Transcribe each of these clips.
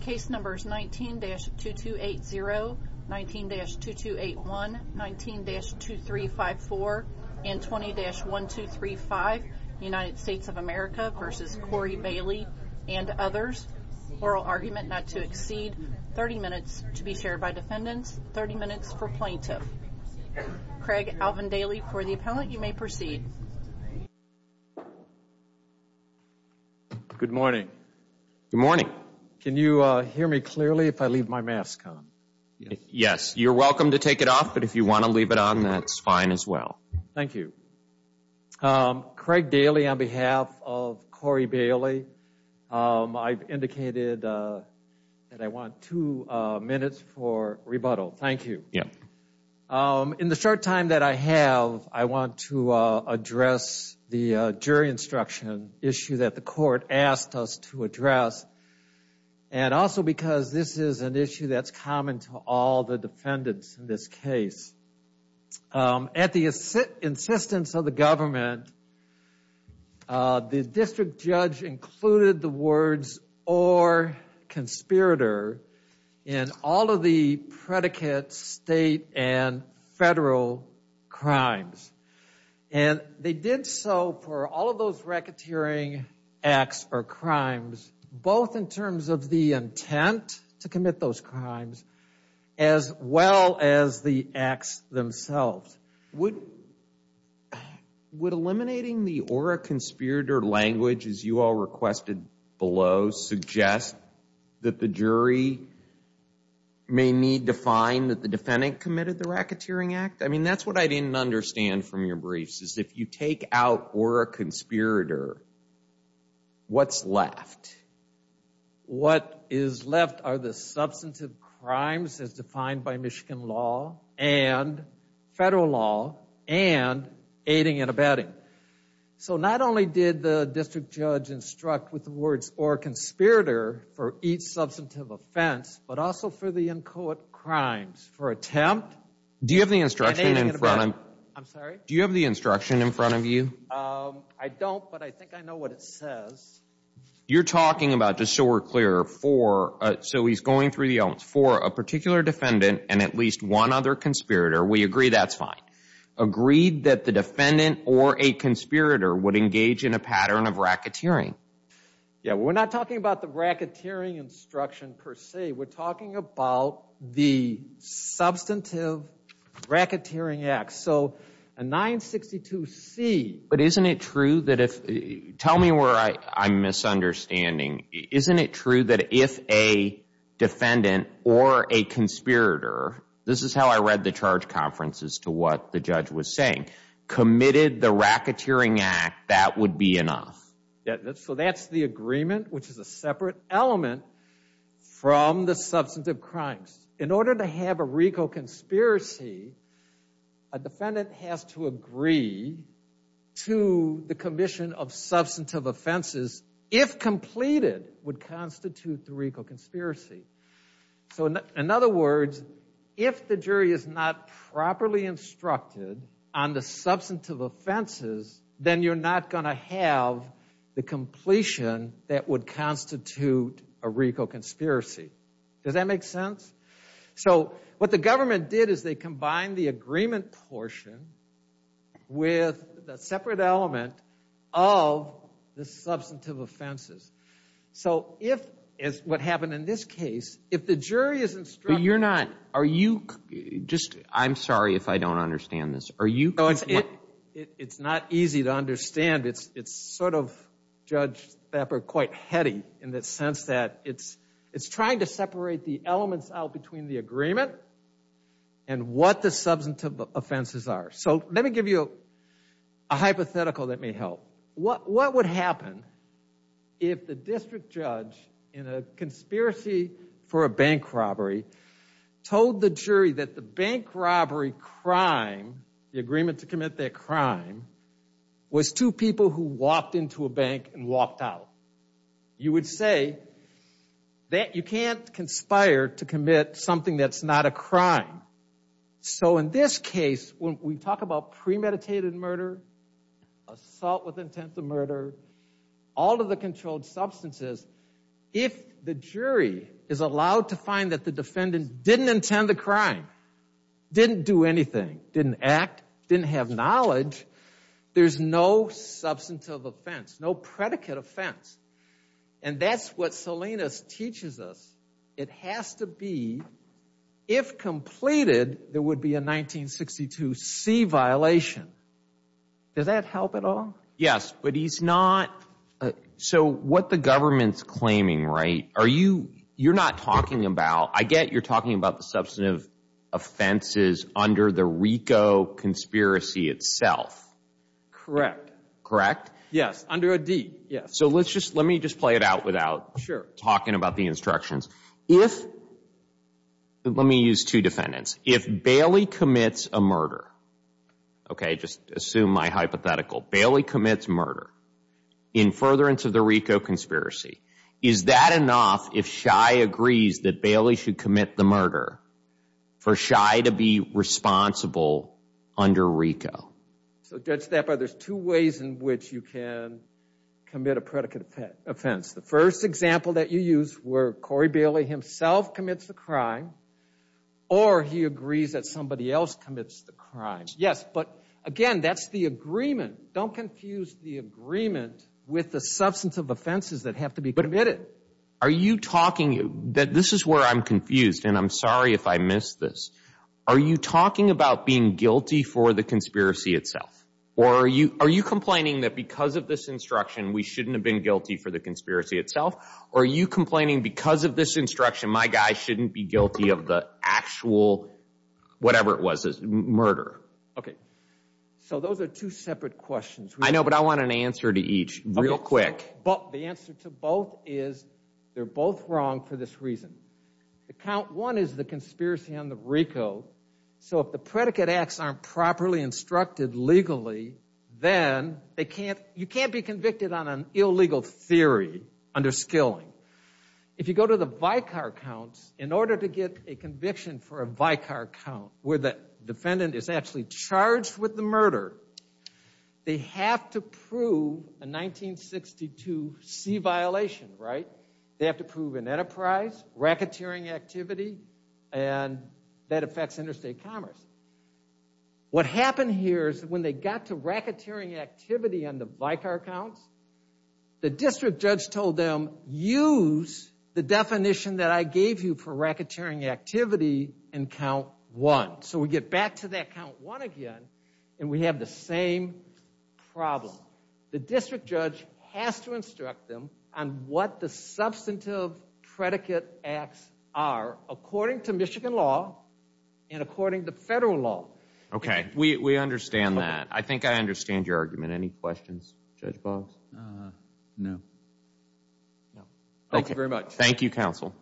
Cases 19-2280, 19-2281, 19-2354, and 20-1235, United States of America v. Corey Bailey and others. Oral argument not to exceed 30 minutes to be shared by defendants, 30 minutes per plaintiff. Craig Alvindaley for the appellant. You may proceed. Good morning. Good morning. Can you hear me clearly if I leave my mask on? Yes, you're welcome to take it off, but if you want to leave it on, that's fine as well. Thank you. Craig Daly on behalf of Corey Bailey. I've indicated that I want two minutes for rebuttal. Thank you. Yeah. In the short time that I have, I want to address the jury instruction issue that the court asked us to address, and also because this is an issue that's common to all the defendants in this case. At the insistence of the government, the district judge included the words, or conspirator in all of the predicate state and federal crimes. And they did so for all of those racketeering acts or crimes, both in terms of the intent to commit those crimes as well as the acts themselves. Would eliminating the or a conspirator language, as you all requested below, suggest that the jury may need to find that the defendant committed the racketeering act? I mean, that's what I didn't understand from your briefs, if you take out or a conspirator, what's left? What is left are the substantive crimes as defined by Michigan law and federal law and aiding and abetting. So not only did the district judge instruct with the words or conspirator for each substantive offense, but also for the inchoate crimes for attempt. Do you have the instruction in front? I'm sorry? Do you have the instruction in front of you? I don't, but I think I know what it says. You're talking about, just so we're clear, for a particular defendant and at least one other conspirator. We agree that's fine. Agreed that the defendant or a conspirator would engage in a pattern of racketeering. Yeah, we're not talking about the racketeering instruction per se. We're talking about the substantive racketeering acts. So a 962 C. But isn't it true that if, tell me where I'm misunderstanding. Isn't it true that if a defendant or a conspirator, this is how I read the charge conference as to what the judge was saying, committed the racketeering act, that would be enough? So that's the agreement, which is a separate element from the substantive crimes. In order to have a reconspiracy, a defendant has to agree to the commission of substantive offenses, if completed, would constitute the reconspiracy. So in other words, if the jury is not properly instructed on the substantive offenses, then you're not going to have the completion that would constitute a reconspiracy. Does that make sense? So what the government did is they combined the agreement portion with a separate element of the substantive offenses. So if, as what happened in this case, if the jury is instructed. But you're not, are you, just, I'm sorry if I don't understand this. It's not easy to understand. It's sort of, Judge Stafford, quite heady in the sense that it's trying to separate the elements out between the agreement and what the substantive offenses are. So let me give you a hypothetical that may help. What would happen if the district judge, in a conspiracy for a bank robbery, told the jury that the bank robbery crime, the agreement to commit that crime, was two people who walked into a bank and walked out? You would say that you can't conspire to commit something that's not a crime. So in this case, when we talk about premeditated murder, assault with intent of murder, all of the controlled substances, if the jury is allowed to find that the defendant didn't intend the crime, didn't do anything, didn't act, didn't have knowledge, there's no substantive offense, no predicate offense. And that's what Salinas teaches us. It has to be, if completed, there would be a 1962C violation. Does that help at all? Yes, but he's not – so what the government's claiming, right, you're not talking about – I get you're talking about the substantive offenses under the RICO conspiracy itself. Correct. Correct? Yes, under a deed, yes. So let me just play it out without talking about the instructions. If – let me use two defendants. If Bailey commits a murder, okay, just assume my hypothetical. Bailey commits murder in furtherance of the RICO conspiracy. Is that enough if Shai agrees that Bailey should commit the murder for Shai to be responsible under RICO? So, Judge Stafford, there's two ways in which you can commit a predicate offense. The first example that you used were Corey Bailey himself commits a crime or he agrees that somebody else commits the crime. Yes, but, again, that's the agreement. Don't confuse the agreement with the substantive offenses that have to be committed. Are you talking – this is where I'm confused, and I'm sorry if I missed this. Are you talking about being guilty for the conspiracy itself, or are you complaining that because of this instruction we shouldn't have been guilty for the conspiracy itself, or are you complaining because of this instruction my guy shouldn't be guilty of the actual whatever it was, this murder? Okay, so those are two separate questions. I know, but I want an answer to each real quick. The answer to both is they're both wrong for this reason. Account one is the conspiracy under RICO, so if the predicate acts aren't properly instructed legally, then you can't be convicted on an illegal theory under Skilling. If you go to the Vicar Counts, in order to get a conviction for a Vicar Count where the defendant is actually charged with the murder, they have to prove a 1962 C violation, right? They have to prove an enterprise, racketeering activity, and that affects interstate commerce. What happened here is when they got to racketeering activity on the Vicar Count, the district judge told them, use the definition that I gave you for racketeering activity in count one. So we get back to that count one again, and we have the same problem. The district judge has to instruct them on what the substantive predicate acts are according to Michigan law and according to federal law. Okay, we understand that. I think I understand your argument. Any questions? No. Thank you very much. Thank you, counsel.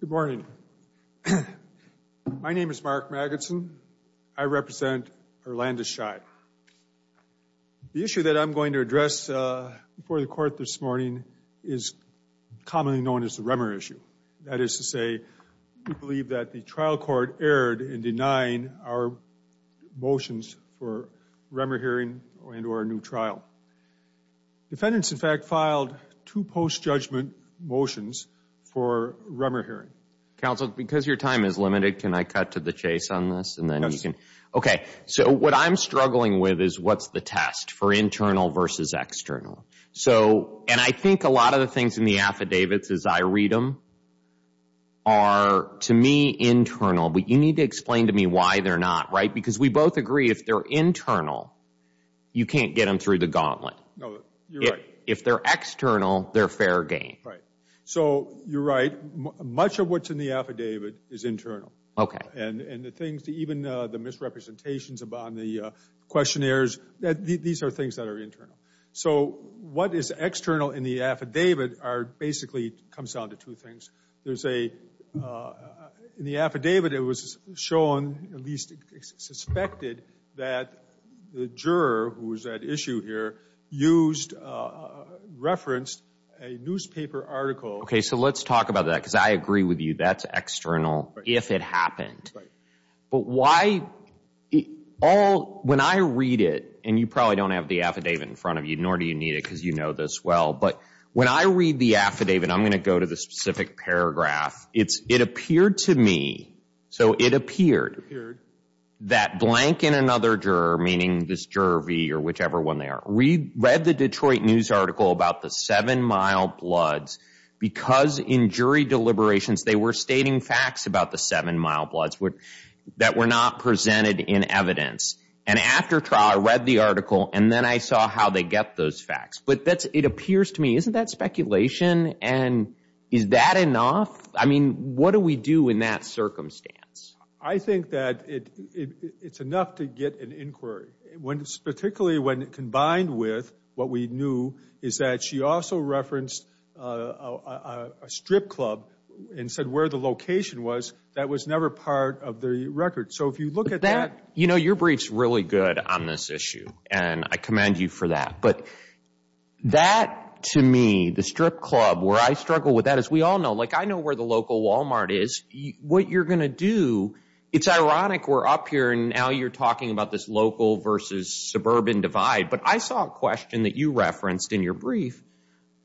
Good morning. My name is Mark Magidson. I represent Orlando Shire. The issue that I'm going to address before the court this morning is commonly known as the Remmer issue. That is to say, we believe that the trial court erred in denying our motions for Remmer hearing and or a new trial. Defendants, in fact, filed two post-judgment motions for Remmer hearing. Counsel, because your time is limited, can I cut to the chase on this? Okay, so what I'm struggling with is what's the test for internal versus external. And I think a lot of the things in the affidavits as I read them are, to me, internal. But you need to explain to me why they're not, right? Because we both agree if they're internal, you can't get them through the gauntlet. If they're external, they're fair game. Right, so you're right. Much of what's in the affidavit is internal. And the things, even the misrepresentations on the questionnaires, these are things that are internal. So what is external in the affidavit basically comes down to two things. There's a, in the affidavit, it was shown, at least suspected, that the juror, who was at issue here, used, referenced a newspaper article. Okay, so let's talk about that, because I agree with you, that's external if it happened. Right. But why, all, when I read it, and you probably don't have the affidavit in front of you, nor do you need it because you know this well, but when I read the affidavit, and I'm going to go to the specific paragraph, it appeared to me, so it appeared, that blank and another juror, meaning this juror B or whichever one they are, read the Detroit News article about the seven mild bloods because in jury deliberations, they were stating facts about the seven mild bloods that were not presented in evidence. And after trial, I read the article, and then I saw how they get those facts. But it appears to me, isn't that speculation? And is that enough? I mean, what do we do in that circumstance? I think that it's enough to get an inquiry, particularly when combined with what we knew, is that she also referenced a strip club and said where the location was. That was never part of the record. So if you look at that. You know, your brief's really good on this issue, and I commend you for that. But that, to me, the strip club, where I struggle with that, as we all know, like I know where the local Walmart is. What you're going to do, it's ironic we're up here, and now you're talking about this local versus suburban divide. But I saw a question that you referenced in your brief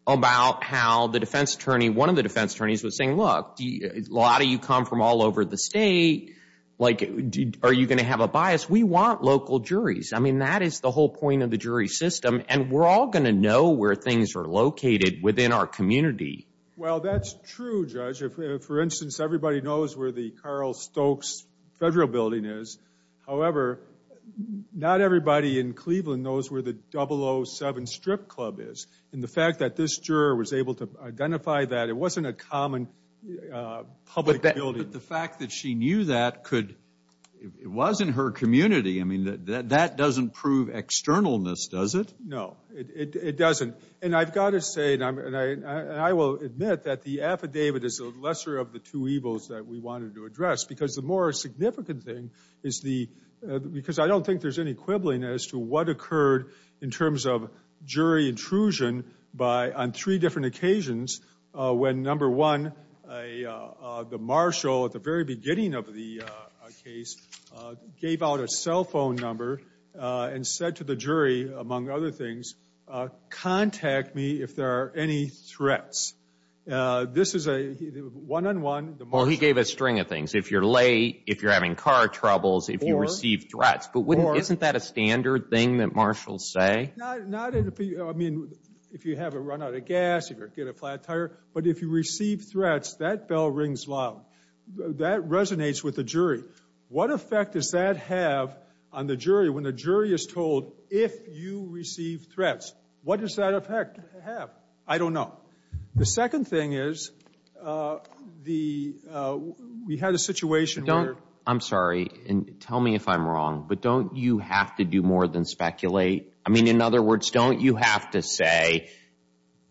about how the defense attorney, one of the defense attorneys was saying, look, a lot of you come from all over the state. Like, are you going to have a bias? We want local juries. I mean, that is the whole point of the jury system. And we're all going to know where things are located within our community. Well, that's true, Judge. For instance, everybody knows where the Carl Stokes Federal Building is. However, not everybody in Cleveland knows where the 007 Strip Club is. And the fact that this juror was able to identify that, it wasn't a common public building. But the fact that she knew that, it wasn't her community. I mean, that doesn't prove externalness, does it? No, it doesn't. And I've got to say, and I will admit that the affidavit is the lesser of the two evils that we wanted to address. Because the more significant thing is the ‑‑ because I don't think there's any quibbling as to what occurred in terms of jury intrusion on three different occasions when, number one, the marshal at the very beginning of the case gave out a cell phone number and said to the jury, among other things, contact me if there are any threats. This is a one‑on‑one. Well, he gave a string of things. If you're late, if you're having car troubles, if you receive threats. But isn't that a standard thing that marshals say? I mean, if you have a run out of gas, if you get a flat tire. But if you receive threats, that bell rings loud. That resonates with the jury. What effect does that have on the jury when the jury is told, if you receive threats, what does that effect have? I don't know. The second thing is, we had a situation where ‑‑ I'm sorry. Tell me if I'm wrong. But don't you have to do more than speculate? I mean, in other words, don't you have to say,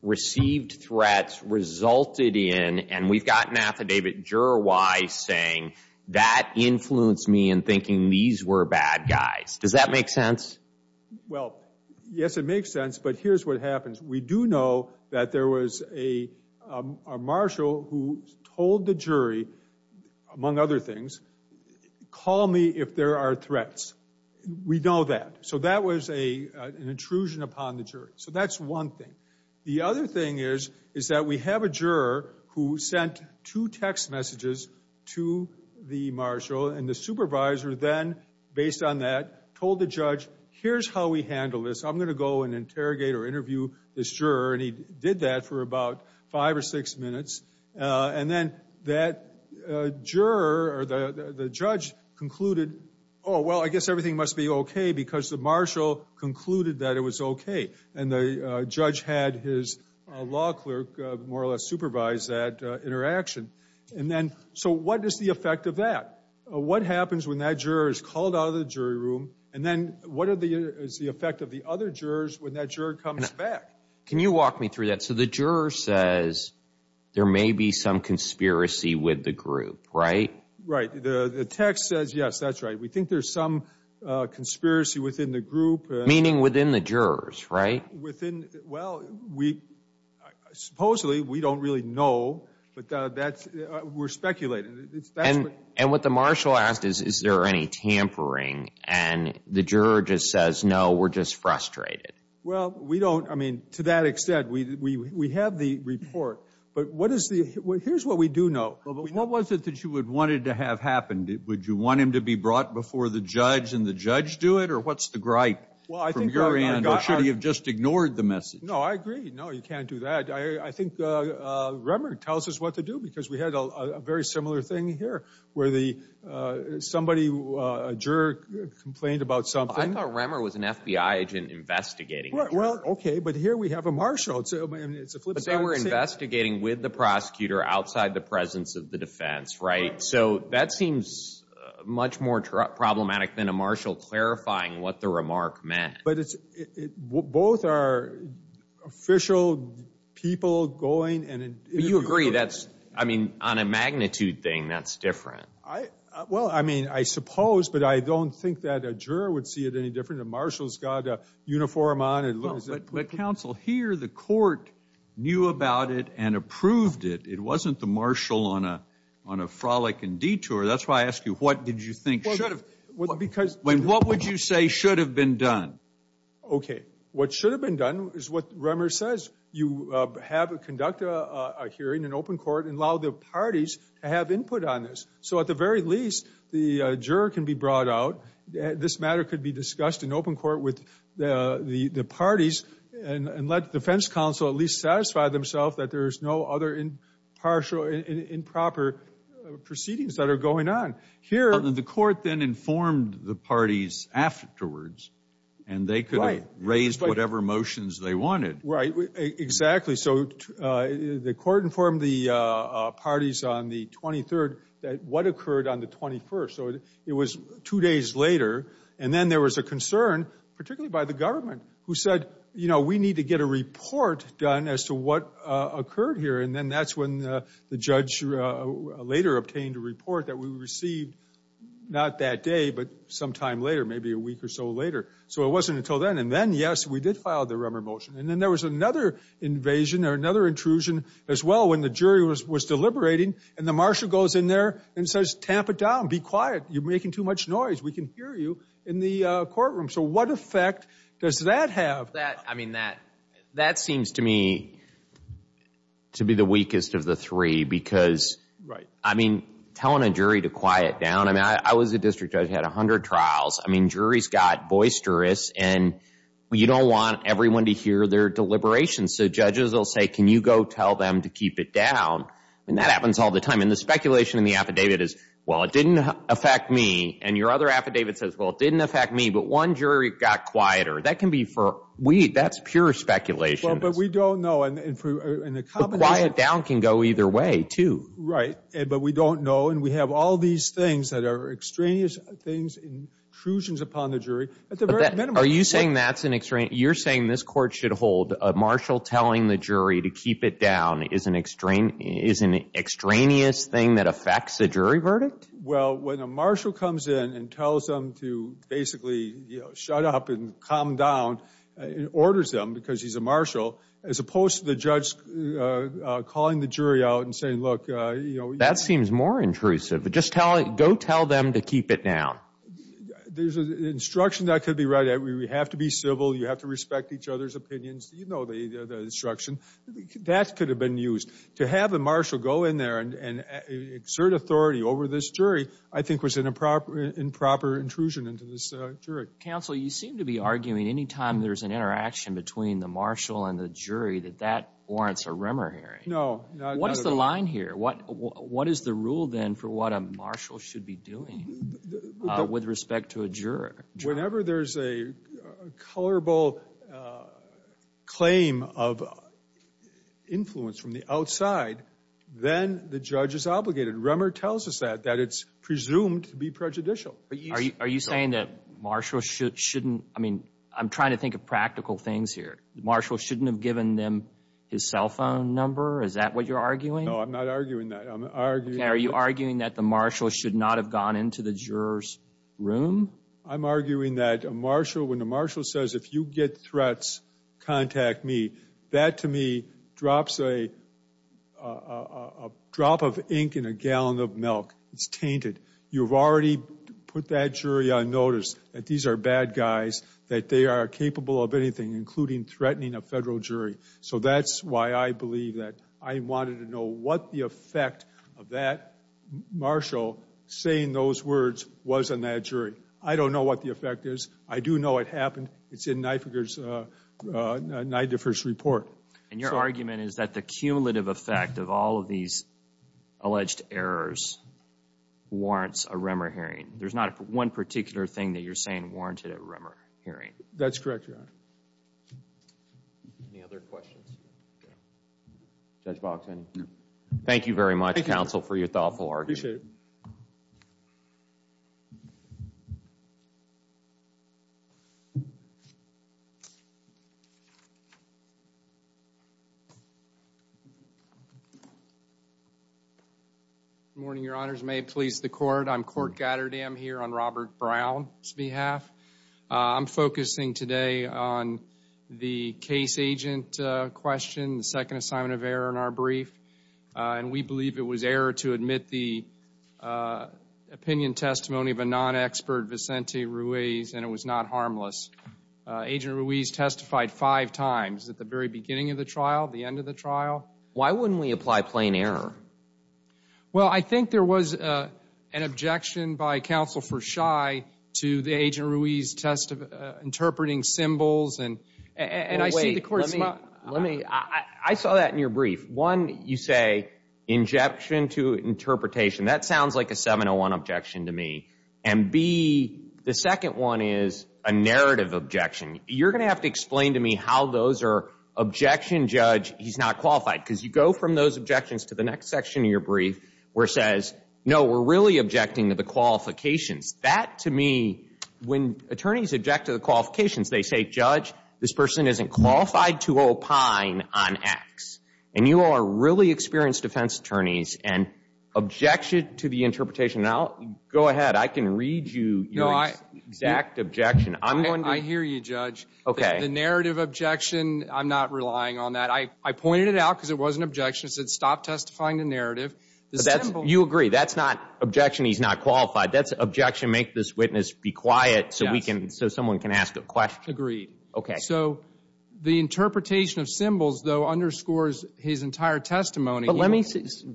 received threats, resulted in, and we've got an affidavit juror wise saying, that influenced me in thinking these were bad guys. Does that make sense? Well, yes, it makes sense. But here's what happens. We do know that there was a marshal who told the jury, among other things, call me if there are threats. We know that. So that was an intrusion upon the jury. So that's one thing. The other thing is, is that we have a juror who sent two text messages to the marshal. And the supervisor then, based on that, told the judge, here's how we handle this. I'm going to go and interrogate or interview this juror. And he did that for about five or six minutes. And then that juror or the judge concluded, oh, well, I guess everything must be okay, because the marshal concluded that it was okay. And the judge had his law clerk more or less supervise that interaction. And then so what is the effect of that? What happens when that juror is called out of the jury room? And then what is the effect of the other jurors when that juror comes back? Can you walk me through that? So the juror says there may be some conspiracy with the group, right? Right. The text says, yes, that's right. We think there's some conspiracy within the group. Meaning within the jurors, right? Well, supposedly we don't really know, but we're speculating. And what the marshal asked is, is there any tampering? And the juror just says, no, we're just frustrated. Well, we don't, I mean, to that extent, we have the report. But what is the, here's what we do know. What was it that you would have wanted to have happen? Would you want him to be brought before the judge and the judge do it? Or what's the gripe from your end? Or should we have just ignored the message? No, I agree. No, you can't do that. I think Remmer tells us what to do, because we had a very similar thing here, where somebody, a juror complained about something. I thought Remmer was an FBI agent investigating. Well, okay, but here we have a marshal. But they were investigating with the prosecutor outside the presence of the defense, right? So that seems much more problematic than a marshal clarifying what the remark meant. But both are official people going and... You agree, that's, I mean, on a magnitude thing, that's different. Well, I mean, I suppose, but I don't think that a juror would see it any different. A marshal's got a uniform on. But, counsel, here the court knew about it and approved it. It wasn't the marshal on a frolic and detour. That's why I ask you, what did you think should have... What would you say should have been done? Okay, what should have been done is what Remmer says. You have to conduct a hearing in open court and allow the parties to have input on this. So at the very least, the juror can be brought out. This matter could be discussed in open court with the parties. And let the defense counsel at least satisfy themselves that there's no other impartial improper proceedings that are going on. The court then informed the parties afterwards. And they could raise whatever motions they wanted. Right, exactly. So the court informed the parties on the 23rd what occurred on the 21st. So it was two days later. And then there was a concern, particularly by the government, who said, you know, we need to get a report done as to what occurred here. And then that's when the judge later obtained a report that we received, not that day, but sometime later, maybe a week or so later. So it wasn't until then. And then, yes, we did file the Remmer motion. And then there was another invasion or another intrusion as well when the jury was deliberating. And the marshal goes in there and says, tamp it down. Be quiet. You're making too much noise. We can hear you in the courtroom. So what effect does that have? I mean, that seems to me to be the weakest of the three because, I mean, telling a jury to quiet down. I mean, I was a district judge. I had 100 trials. I mean, juries got boisterous and you don't want everyone to hear their deliberations. So judges will say, can you go tell them to keep it down? And that happens all the time. And the speculation in the affidavit is, well, it didn't affect me. And your other affidavit says, well, it didn't affect me. But one jury got quieter. That can be for we. That's pure speculation. But we don't know. And the quiet down can go either way, too. Right. But we don't know. And we have all these things that are extraneous things, intrusions upon the jury. Are you saying that's an extreme? You're saying this court should hold a marshal telling the jury to keep it down is an extreme is an extraneous thing that affects the jury verdict. Well, when a marshal comes in and tells them to basically shut up and calm down, it orders them because he's a marshal, as opposed to the judge calling the jury out and saying, look. You know, that seems more intrusive. But just tell it. Go tell them to keep it down. There's an instruction that could be read. We have to be civil. You have to respect each other's opinions. You know, the instruction that could have been used to have a marshal go in there and exert authority over this jury, I think, was in a proper improper intrusion into this jury. Counsel, you seem to be arguing any time there's an interaction between the marshal and the jury that that warrants a rumor. No. What is the line here? What what is the rule then for what a marshal should be doing with respect to a juror? Whenever there is a colorable claim of influence from the outside, then the judge is obligated. Rummer tells us that that it's presumed to be prejudicial. Are you saying that Marshall should shouldn't? I mean, I'm trying to think of practical things here. Marshall shouldn't have given them his cell phone number. Is that what you're arguing? I'm not arguing that I'm arguing. Are you arguing that the marshal should not have gone into the jurors room? I'm arguing that a marshal when the marshal says, if you get threats, contact me. That to me drops a drop of ink in a gallon of milk. It's tainted. You've already put that jury on notice that these are bad guys, that they are capable of anything, including threatening a federal jury. So that's why I believe that. I wanted to know what the effect of that marshal saying those words was on that jury. I don't know what the effect is. I do know it happened. And your argument is that the cumulative effect of all of these alleged errors warrants a rumor hearing. There's not one particular thing that you're saying warranted a rumor hearing. That's correct. Any other questions? Thank you very much, counsel, for your thoughtful argument. Appreciate it. Good morning, your honors. May it please the court. I'm Court Gatterdam here on Robert Brown's behalf. I'm focusing today on the case agent question, the second assignment of error in our brief. And we believe it was error to admit the opinion testimony of a non-expert, Vicente Ruiz, and it was not harmless. Agent Ruiz testified five times at the very beginning of the trial, the end of the trial. Why wouldn't we apply plain error? Well, I think there was an objection by counsel for shy to the agent Ruiz test of interpreting symbols. And I see the court. Let me I saw that in your brief. One, you say injection to interpretation. That sounds like a 701 objection to me. And B, the second one is a narrative objection. You're going to have to explain to me how those are objection. Judge, he's not qualified. Because you go from those objections to the next section of your brief where it says, no, we're really objecting to the qualifications. That, to me, when attorneys object to the qualifications, they say, Judge, this person isn't qualified to opine on X. And you are really experienced defense attorneys and objection to the interpretation. Now, go ahead. I can read you your exact objection. I hear you, Judge. OK. The narrative objection, I'm not relying on that. I pointed it out because it was an objection. It said stop testifying to narrative. You agree. That's not objection. He's not qualified. That's objection. Make this witness be quiet so someone can ask a question. Agreed. OK. So the interpretation of symbols, though, underscores his entire testimony. But let me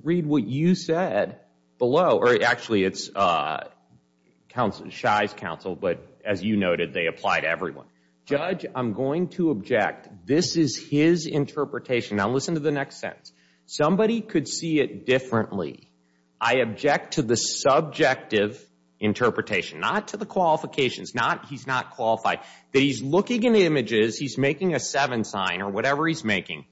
read what you said below. Actually, it's shy's counsel. But as you noted, they apply to everyone. Judge, I'm going to object. This is his interpretation. Now, listen to the next sentence. Somebody could see it differently. I object to the subjective interpretation. Not to the qualifications. He's not qualified. He's looking at images. He's making a seven sign or whatever he's making.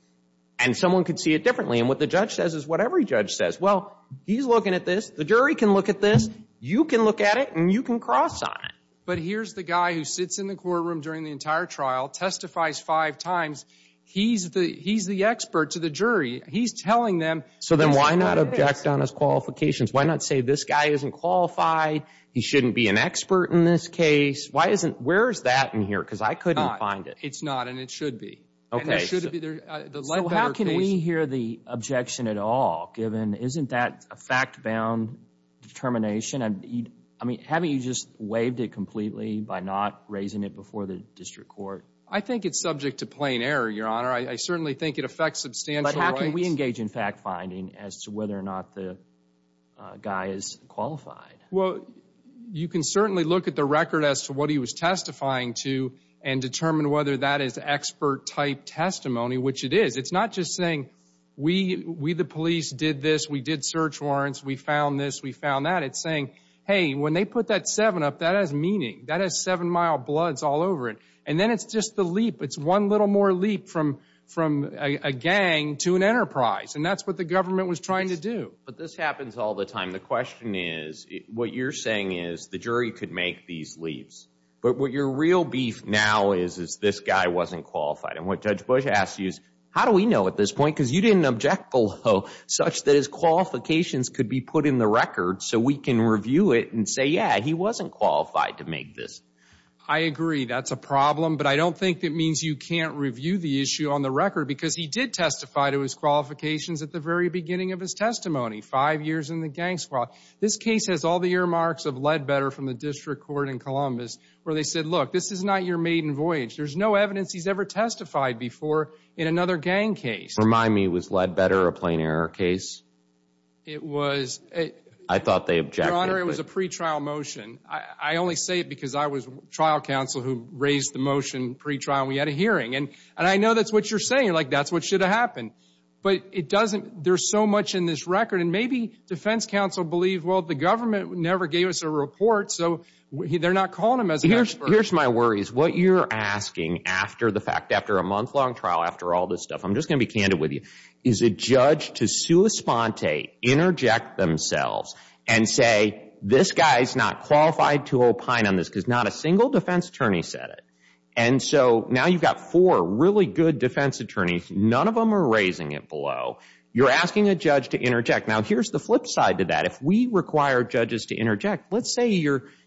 And someone could see it differently. And what the judge says is whatever the judge says. Well, he's looking at this. The jury can look at this. You can look at it. And you can cross on it. But here's the guy who sits in the courtroom during the entire trial, testifies five times. He's the expert to the jury. He's telling them. So then why not object on his qualifications? Why not say this guy isn't qualified? He shouldn't be an expert in this case. Where is that in here? Because I couldn't find it. It's not. And it should be. OK. How can we hear the objection at all, given isn't that a fact-bound determination? I mean, haven't you just waived it completely by not raising it before the district court? I think it's subject to plain error, Your Honor. I certainly think it affects substantially. But how can we engage in fact-finding as to whether or not the guy is qualified? Well, you can certainly look at the record as to what he was testifying to and determine whether that is expert-type testimony, which it is. It's not just saying we, the police, did this. We did search warrants. We found this. We found that. It's saying, hey, when they put that 7 up, that has meaning. That has 7-mile bloods all over it. And then it's just the leap. It's one little more leap from a gang to an enterprise. And that's what the government was trying to do. But this happens all the time. The question is, what you're saying is, the jury could make these leaps. But what your real beef now is, is this guy wasn't qualified. And what Judge Bush asked you is, how do we know at this point? Because you didn't object below such that his qualifications could be put in the record so we can review it and say, yeah, he wasn't qualified to make this. I agree. That's a problem. But I don't think that means you can't review the issue on the record because he did testify to his qualifications at the very beginning of his testimony, five years in the gang squad. This case has all the earmarks of Ledbetter from the District Court in Columbus where they said, look, this is not your maiden voyage. There's no evidence he's ever testified before in another gang case. Remind me, was Ledbetter a plain error case? It was. I thought they objected. Your Honor, it was a pretrial motion. I only say it because I was trial counsel who raised the motion pretrial. We had a hearing. And I know that's what you're saying, like that's what should have happened. But it doesn't – there's so much in this record. And maybe defense counsel believe, well, the government never gave us a report, so they're not calling them as experts. Here's my worries. What you're asking after the fact, after a month-long trial, after all this stuff, I'm just going to be candid with you, is a judge to sua sponte, interject themselves, and say this guy is not qualified to opine on this because not a single defense attorney said it. And so now you've got four really good defense attorneys. None of them are raising it below. You're asking a judge to interject. Now, here's the flip side to that. If we require judges to interject, let's say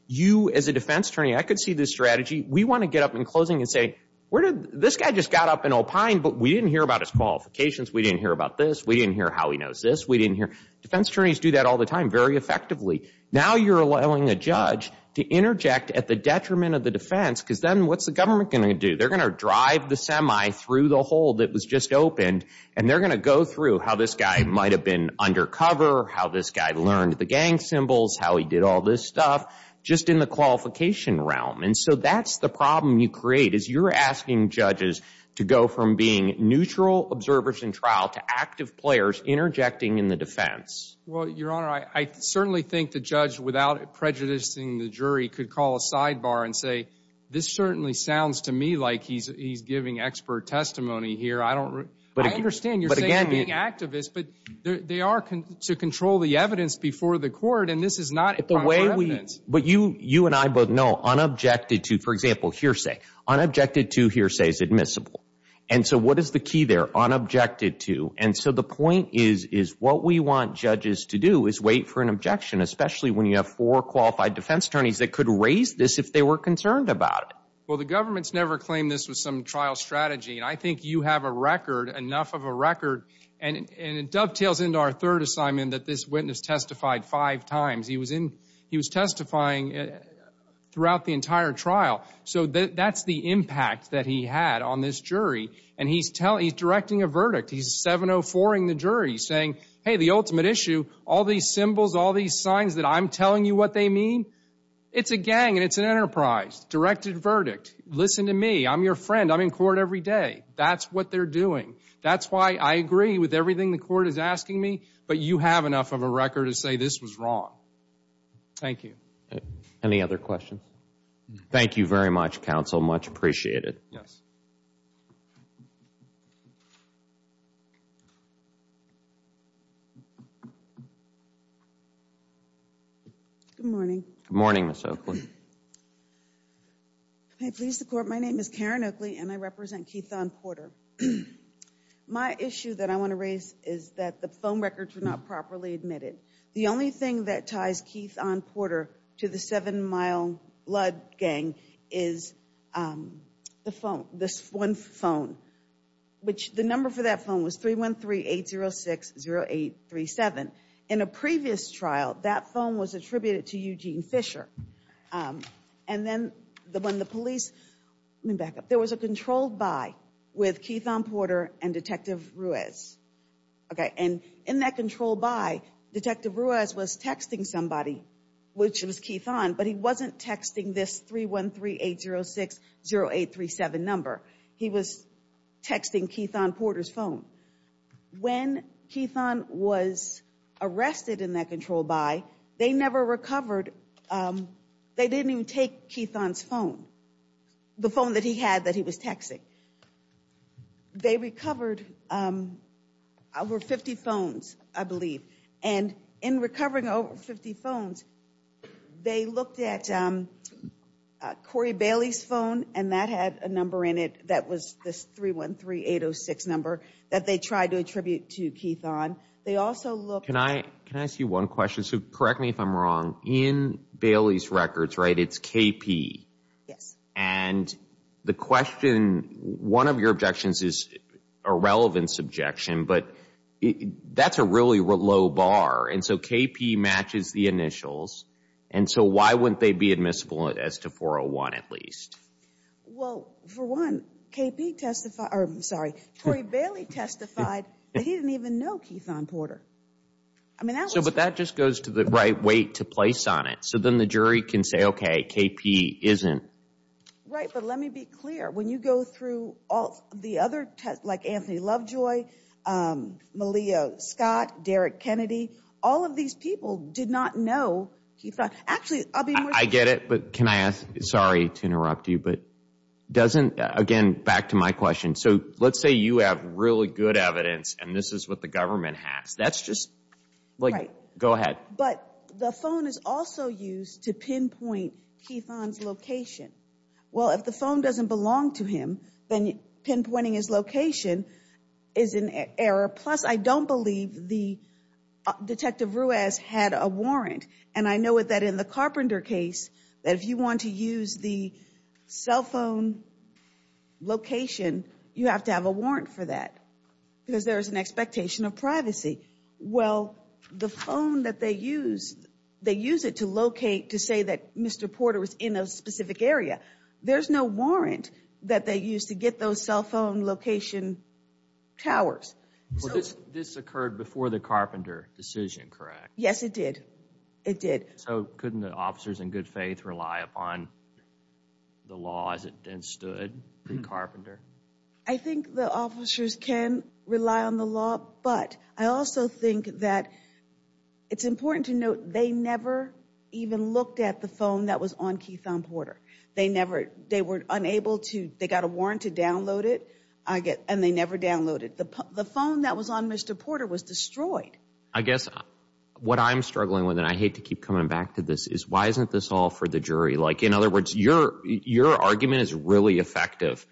you as a defense attorney, I could see this strategy. We want to get up in closing and say, this guy just got up and opined, but we didn't hear about his qualifications. We didn't hear about this. We didn't hear how he knows this. We didn't hear – defense attorneys do that all the time very effectively. Now you're allowing a judge to interject at the detriment of the defense because then what's the government going to do? They're going to drive the semi through the hole that was just opened, and they're going to go through how this guy might have been undercover, how this guy learned the gang symbols, how he did all this stuff, just in the qualification realm. And so that's the problem you create is you're asking judges to go from being neutral observers in trial to active players interjecting in the defense. Well, Your Honor, I certainly think the judge, without prejudicing the jury, could call a sidebar and say, this certainly sounds to me like he's giving expert testimony here. I don't – I understand you're saying activists, but they are to control the evidence before the court, and this is not – But you and I both know unobjected to, for example, hearsay. Unobjected to hearsay is admissible. And so what is the key there? Unobjected to. And so the point is what we want judges to do is wait for an objection, especially when you have four qualified defense attorneys that could raise this if they were concerned about it. Well, the government's never claimed this was some trial strategy, and I think you have a record, enough of a record, and it dovetails into our third assignment that this witness testified five times. He was testifying throughout the entire trial. So that's the impact that he had on this jury, and he's directing a verdict. He's 704-ing the jury, saying, hey, the ultimate issue, all these symbols, all these signs that I'm telling you what they mean, it's a gang and it's an enterprise. Directed verdict. Listen to me. I'm your friend. I'm in court every day. That's what they're doing. That's why I agree with everything the court is asking me, but you have enough of a record to say this was wrong. Thank you. Any other questions? Thank you very much, counsel. Much appreciated. Yes. Good morning. Good morning, Ms. Oakley. May I please support? My name is Karen Oakley, and I represent Keith-On Porter. My issue that I want to raise is that the phone records were not properly admitted. The only thing that ties Keith-On Porter to the Seven Mile Blood Gang is the phone, this one phone, which the number for that phone was 313-806-0837. In a previous trial, that phone was attributed to Eugene Fisher. And then when the police ñ let me back up. There was a controlled buy with Keith-On Porter and Detective Ruiz. Okay, and in that controlled buy, Detective Ruiz was texting somebody, which was Keith-On, but he wasn't texting this 313-806-0837 number. When Keith-On was arrested in that controlled buy, they never recovered. They didn't even take Keith-On's phone, the phone that he had that he was texting. They recovered over 50 phones, I believe. And in recovering over 50 phones, they looked at Corey Bailey's phone, and that had a number in it that was this 313-806 number that they tried to attribute to Keith-On. They also looked ñ Can I ask you one question? So correct me if I'm wrong. In Bailey's records, right, it's KP. Yes. And the question ñ one of your objections is a relevance objection, but that's a really low bar. And so KP matches the initials, and so why wouldn't they be admissible as to 401 at least? Well, for one, KP testified ñ I'm sorry, Corey Bailey testified that he didn't even know Keith-On Porter. But that just goes to the right weight to place on it. So then the jury can say, okay, KP isn't. Right, but let me be clear. When you go through all the other ñ like Anthony Lovejoy, Malia Scott, Derek Kennedy, all of these people did not know Keith-On. Actually, I'll be more ñ I get it, but can I ask ñ sorry to interrupt you, but doesn't ñ again, back to my question. So let's say you have really good evidence, and this is what the government has. That's just ñ like, go ahead. But the phone is also used to pinpoint Keith-On's location. Well, if the phone doesn't belong to him, then pinpointing his location is an error. Plus, I don't believe the ñ Detective Ruiz had a warrant. And I know that in the Carpenter case, if you want to use the cell phone location, you have to have a warrant for that because there is an expectation of privacy. Well, the phone that they use, they use it to locate, to say that Mr. Porter was in a specific area. There's no warrant that they use to get those cell phone location towers. This occurred before the Carpenter decision, correct? Yes, it did. It did. So couldn't the officers in good faith rely upon the law as it stood in Carpenter? I think the officers can rely on the law. But I also think that it's important to note they never even looked at the phone that was on Keith-On Porter. They never ñ they were unable to ñ they got a warrant to download it, and they never downloaded it. The phone that was on Mr. Porter was destroyed. I guess what I'm struggling with, and I hate to keep coming back to this, is why isn't this all for the jury? Like, in other words, your argument is really effective.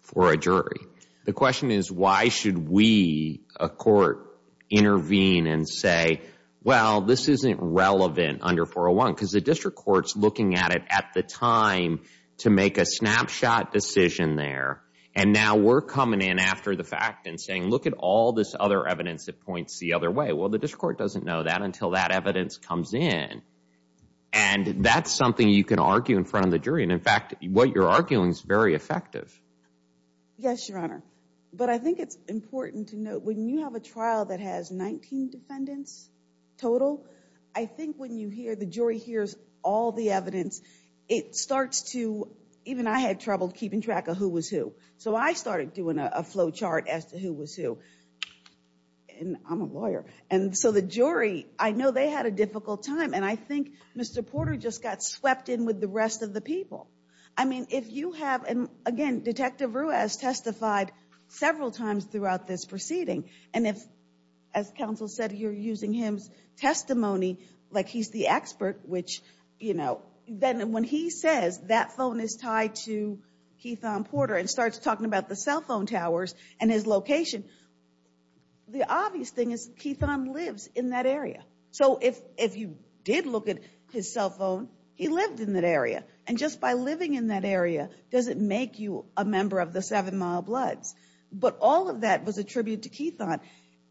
For a jury. The question is, why should we, a court, intervene and say, well, this isn't relevant under 401? Because the district court's looking at it at the time to make a snapshot decision there. And now we're coming in after the fact and saying, look at all this other evidence that points the other way. Well, the district court doesn't know that until that evidence comes in. And that's something you can argue in front of the jury. And, in fact, what you're arguing is very effective. Yes, Your Honor. But I think it's important to note when you have a trial that has 19 defendants total, I think when you hear ñ the jury hears all the evidence, it starts to ñ even I had trouble keeping track of who was who. So I started doing a flow chart as to who was who. And I'm a lawyer. And so the jury ñ I know they had a difficult time. And I think Mr. Porter just got swept in with the rest of the people. I mean, if you have ñ and, again, Detective Ruiz testified several times throughout this proceeding. And if, as counsel said, you're using his testimony like he's the expert, which, you know, then when he says that phone is tied to Keithon Porter and starts talking about the cell phone towers and his location, the obvious thing is Keithon lives in that area. So if you did look at his cell phone, he lived in that area. And just by living in that area doesn't make you a member of the Seven Mile Bloods. But all of that was attributed to Keithon.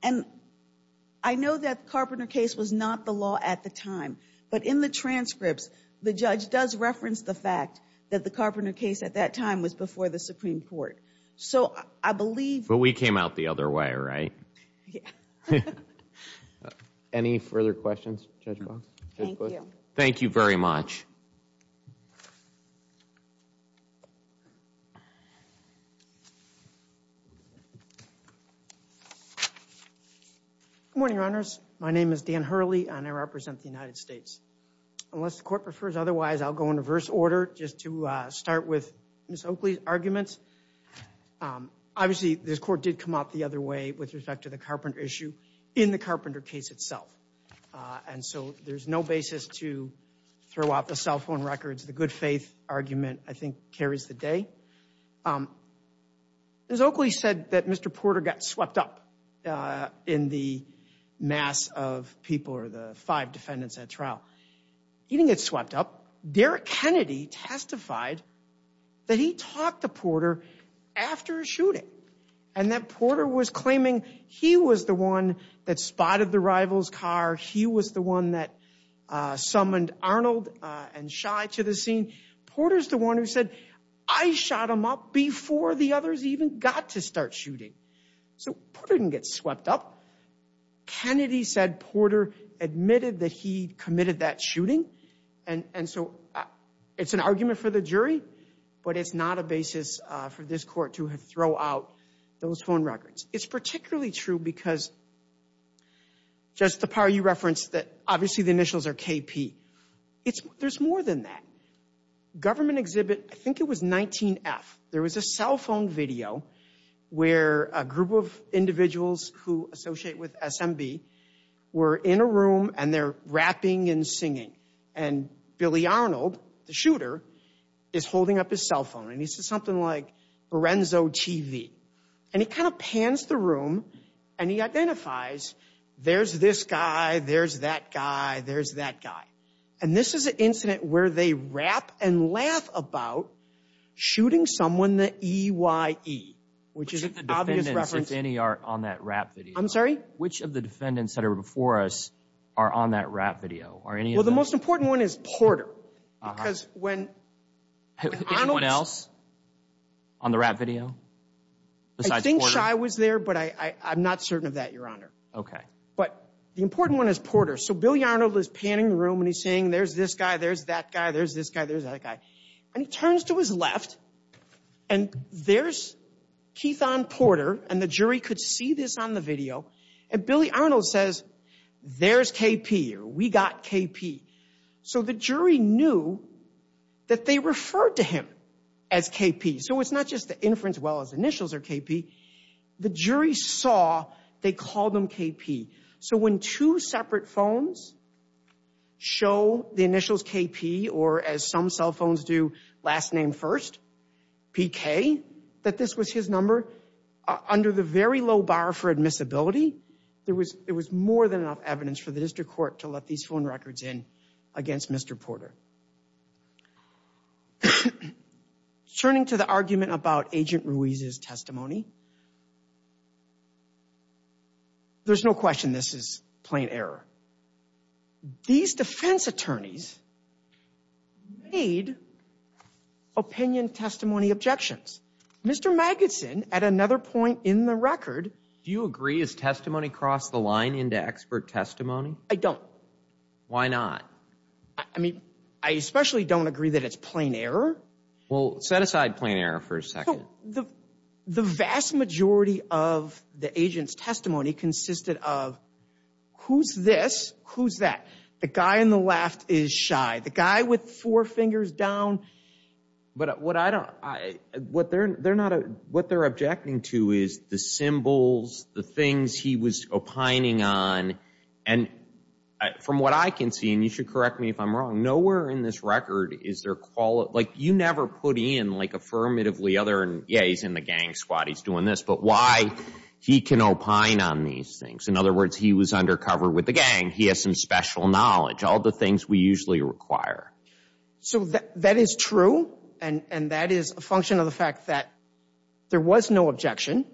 And I know that Carpenter case was not the law at the time. But in the transcripts, the judge does reference the fact that the Carpenter case at that time was before the Supreme Court. So I believe ñ But we came out the other way, right? Yeah. Any further questions? Thank you. Thank you very much. Good morning, Your Honors. My name is Dan Hurley, and I represent the United States. Unless the Court prefers otherwise, I'll go in reverse order just to start with Ms. Oakley's arguments. Obviously, this Court did come out the other way with respect to the Carpenter issue in the Carpenter case itself. And so there's no basis to throw out the cell phone records. The good faith argument, I think, carries the day. Ms. Oakley said that Mr. Porter got swept up in the mass of people or the five defendants at trial. He didn't get swept up. Derek Kennedy testified that he talked to Porter after a shooting and that Porter was claiming he was the one that spotted the rival's car. He was the one that summoned Arnold and Shy to the scene. Porter's the one who said, I shot him up before the others even got to start shooting. So Porter didn't get swept up. Kennedy said Porter admitted that he committed that shooting. And so it's an argument for the jury, but it's not a basis for this Court to throw out those phone records. It's particularly true because just the part you referenced that obviously the initials are KP. There's more than that. Government exhibit, I think it was 19F. There was a cell phone video where a group of individuals who associate with SMB were in a room and they're rapping and singing. And Billy Arnold, the shooter, is holding up his cell phone. And he says something like Lorenzo TV. And he kind of pans the room and he identifies there's this guy, there's that guy, there's that guy. And this is an incident where they rap and laugh about shooting someone that EYE. Which is an obvious reference. Which of the defendants that are before us are on that rap video? Well, the most important one is Porter. Because when… Arnold else on the rap video? I think Shy was there, but I'm not certain of that, Your Honor. But the important one is Porter. So Billy Arnold was panning the room and he's saying there's this guy, there's that guy, there's this guy, there's that guy. And he turns to his left and there's Keethon Porter. And the jury could see this on the video. And Billy Arnold says, there's KP. We got KP. So the jury knew that they referred to him as KP. So it's not just the inference, well, his initials are KP. The jury saw they called him KP. So when two separate phones show the initials KP, or as some cell phones do, last name first, PK, that this was his number. Under the very low bar for admissibility, there was more than enough evidence for the district court to let these phone records in against Mr. Porter. Turning to the argument about Agent Ruiz's testimony. There's no question this is plain error. These defense attorneys made opinion testimony objections. Mr. Magidson, at another point in the record. Do you agree his testimony crossed the line into expert testimony? I don't. Why not? I mean, I especially don't agree that it's plain error. Well, set aside plain error for a second. The vast majority of the agent's testimony consisted of, who's this? Who's that? The guy on the left is shy. The guy with four fingers down. But what they're objecting to is the symbols, the things he was opining on. And from what I can see, and you should correct me if I'm wrong, nowhere in this record is there quali... Like, you never put in, like, affirmatively other... Yeah, he's in the gang squad. He's doing this. But why? He can opine on these things. In other words, he was undercover with the gang. He has some special knowledge. All the things we usually require. So that is true, and that is a function of the fact that there was no objection.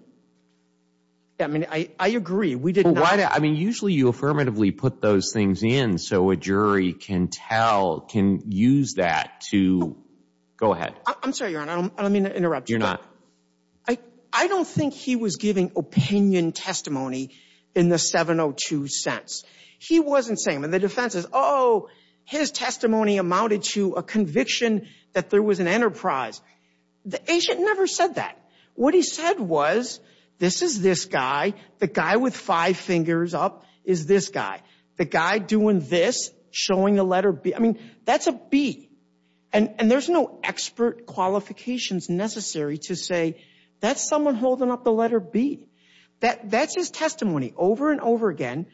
I mean, I agree. I mean, usually you affirmatively put those things in so a jury can tell, can use that to... Go ahead. I'm sorry, Your Honor. I don't mean to interrupt you. You're not. I don't think he was giving opinion testimony in the 702 sense. He wasn't saying... And the defense is, oh, his testimony amounted to a conviction that there was an enterprise. The agent never said that. What he said was, this is this guy. The guy with five fingers up is this guy. The guy doing this, showing the letter B. I mean, that's a B. And there's no expert qualifications necessary to say, that's someone holding up the letter B. That's his testimony over and over again.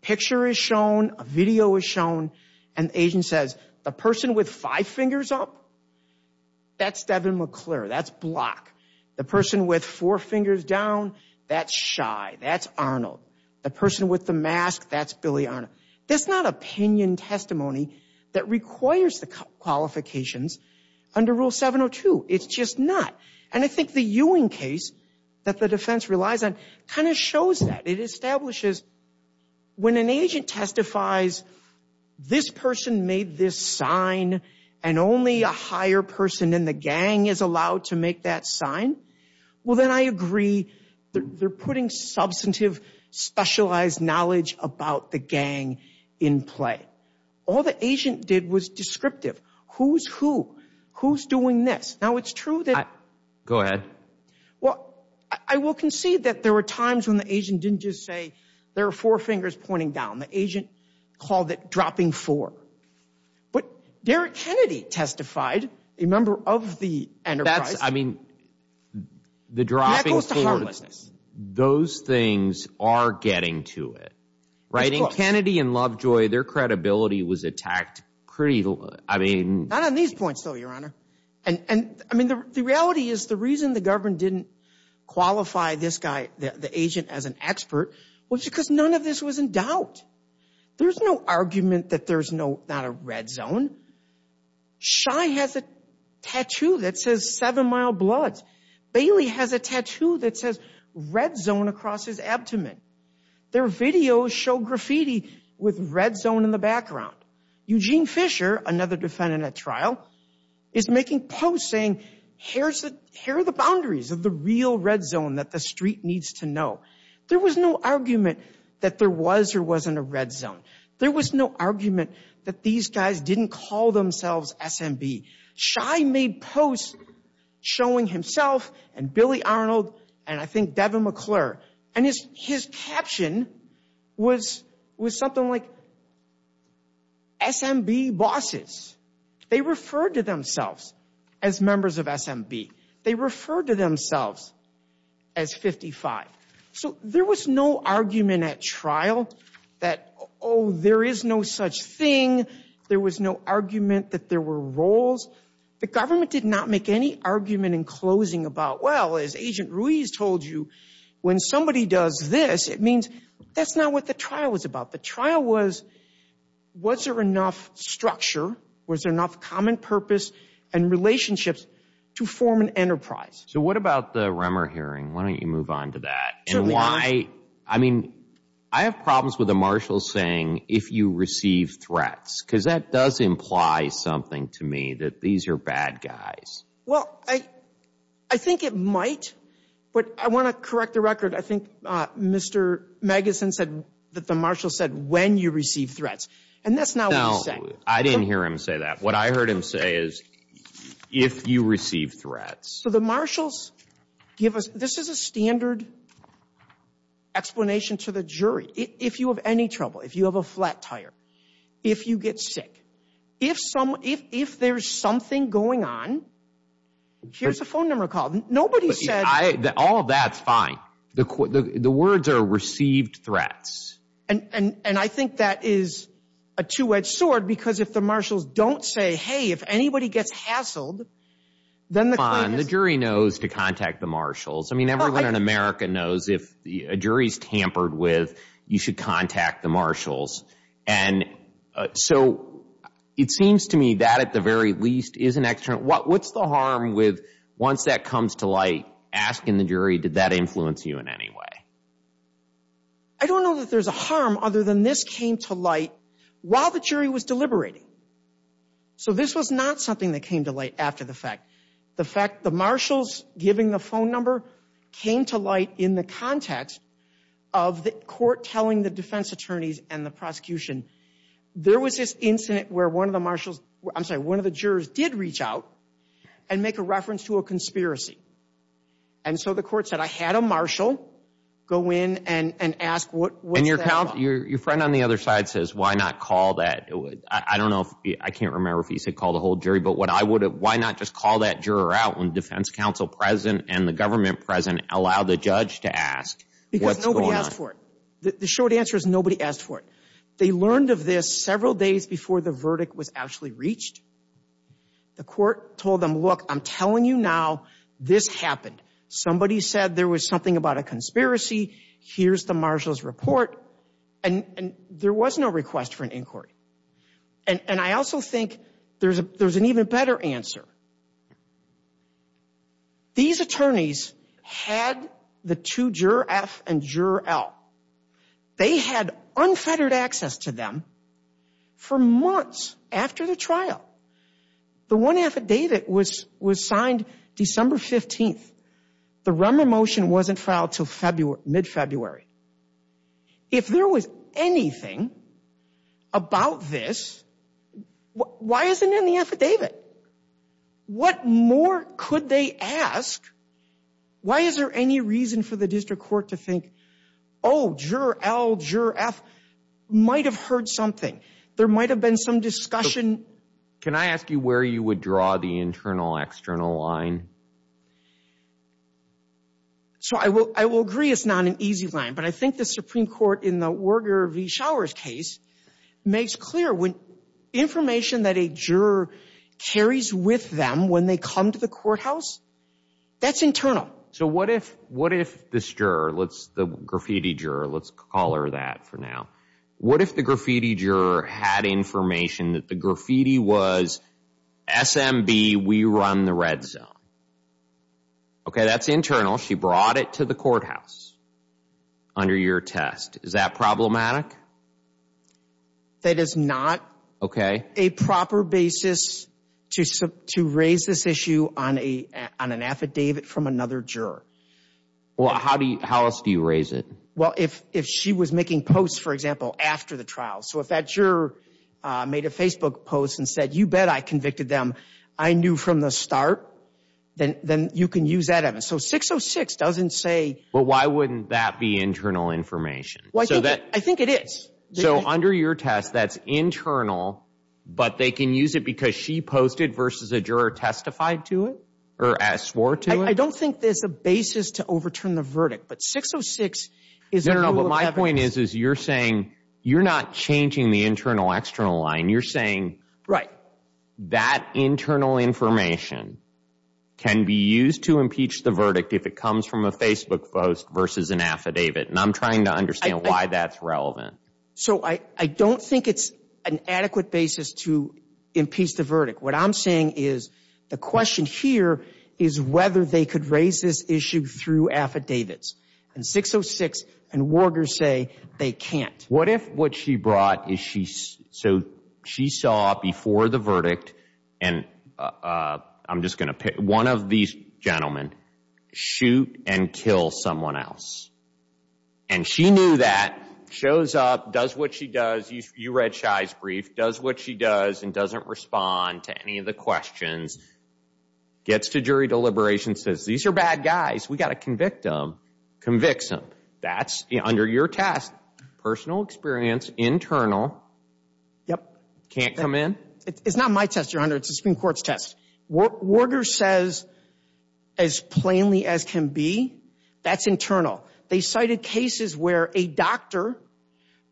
Picture is shown. A video is shown. An agent says, a person with five fingers up, that's Devin McClure. That's Block. The person with four fingers down, that's Shy. That's Arnold. The person with the mask, that's Billy Arnold. That's not opinion testimony that requires the qualifications under Rule 702. It's just not. And I think the Ewing case that the defense relies on kind of shows that. When an agent testifies, this person made this sign, and only a higher person in the gang is allowed to make that sign, well, then I agree. They're putting substantive, specialized knowledge about the gang in play. All the agent did was descriptive. Who's who? Who's doing this? Now, it's true that. Go ahead. Well, I will concede that there were times when the agent didn't just say there are four fingers pointing down. The agent called it dropping four. But Derrick Kennedy testified, a member of the enterprise. I mean, the dropping four, those things are getting to it, right? Kennedy and Lovejoy, their credibility was attacked pretty, I mean. Not on these points, though, Your Honor. I mean, the reality is the reason the government didn't qualify this guy, the agent, as an expert was because none of this was in doubt. There's no argument that there's not a red zone. Shy has a tattoo that says seven-mile blood. Bailey has a tattoo that says red zone across his abdomen. Their videos show graffiti with red zone in the background. Eugene Fisher, another defendant at trial, is making posts saying here are the boundaries of the real red zone that the street needs to know. There was no argument that there was or wasn't a red zone. There was no argument that these guys didn't call themselves SMB. Shy made posts showing himself and Billy Arnold and I think Devin McClure. His caption was something like SMB bosses. They referred to themselves as members of SMB. They referred to themselves as 55. So there was no argument at trial that, oh, there is no such thing. There was no argument that there were roles. The government did not make any argument in closing about, well, as Agent Ruiz told you, when somebody does this, it means that's not what the trial was about. The trial was, was there enough structure, was there enough common purpose and relationships to form an enterprise? So what about the Rummer hearing? Why don't you move on to that? I mean, I have problems with the marshals saying if you receive threats, because that does imply something to me, that these are bad guys. Well, I think it might, but I want to correct the record. I think Mr. Magus and said that the marshal said when you receive threats, and that's not what he's saying. I didn't hear him say that. What I heard him say is if you receive threats. So the marshals give us, this is a standard explanation to the jury. If you have any trouble, if you have a flat tire, if you get sick, if there's something going on, here's a phone number called. Nobody said. All of that's fine. The words are received threats. And I think that is a two edged sword, because if the marshals don't say, hey, if anybody gets hassled, then the jury knows to contact the marshals. I mean, everyone in America knows if a jury is tampered with, you should contact the marshals. And so it seems to me that at the very least is an extra. What's the harm with once that comes to light, asking the jury, did that influence you in any way? I don't know that there's a harm other than this came to light while the jury was deliberating. So this was not something that came to light after the fact. The fact the marshals giving the phone number came to light in the context of the court telling the defense attorneys and the prosecution. There was this incident where one of the marshals, I'm sorry, one of the jurors did reach out and make a reference to a conspiracy. And so the court said, I had a marshal go in and ask what. Your friend on the other side says, why not call that? I don't know. I can't remember if he said call the whole jury. But what I would have. Why not just call that juror out when the defense counsel president and the government president allow the judge to ask what's going on. The short answer is nobody asked for it. They learned of this several days before the verdict was actually reached. The court told them, look, I'm telling you now, this happened. Somebody said there was something about a conspiracy. Here's the marshal's report. And there was no request for an inquiry. And I also think there's an even better answer. These attorneys had the two juror F and juror L. They had unfettered access to them for months after the trial. The one affidavit was signed December 15th. The Rummer motion wasn't filed until mid-February. If there was anything about this, why isn't it in the affidavit? What more could they ask? Why is there any reason for the district court to think, oh, juror L, juror F might have heard something. There might have been some discussion. Can I ask you where you would draw the internal-external line? So I will agree it's not an easy line. But I think the Supreme Court in the Orger v. Showers case makes clear information that a juror carries with them when they come to the courthouse, that's internal. So what if this juror, the graffiti juror, let's call her that for now. What if the graffiti juror had information that the graffiti was SMB, we run the red zone? Okay, that's internal. She brought it to the courthouse under your test. Is that problematic? That is not a proper basis to raise this issue on an affidavit from another juror. Well, how else do you raise it? Well, if she was making posts, for example, after the trial. So if that juror made a Facebook post and said, you bet I convicted them, I knew from the start, then you can use that evidence. So 606 doesn't say… Well, why wouldn't that be internal information? I think it is. So under your test, that's internal, but they can use it because she posted versus a juror testified to it or asked for to it? I don't think there's a basis to overturn the verdict. No, no, but my point is you're saying you're not changing the internal, external line. You're saying that internal information can be used to impeach the verdict if it comes from a Facebook post versus an affidavit. And I'm trying to understand why that's relevant. So I don't think it's an adequate basis to impeach the verdict. What I'm saying is the question here is whether they could raise this issue through affidavits. And 606 and Warger say they can't. What if what she brought is she… So she saw before the verdict, and I'm just going to pick one of these gentlemen, shoot and kill someone else. And she knew that, shows up, does what she does. You read Shai's brief. Does what she does and doesn't respond to any of the questions. Gets to jury deliberation, says these are bad guys. We've got to convict them. Convicts them. That's under your test. Personal experience, internal. Yep. Can't come in? It's not my test you're under. It's the Supreme Court's test. Warger says as plainly as can be, that's internal. They cited cases where a doctor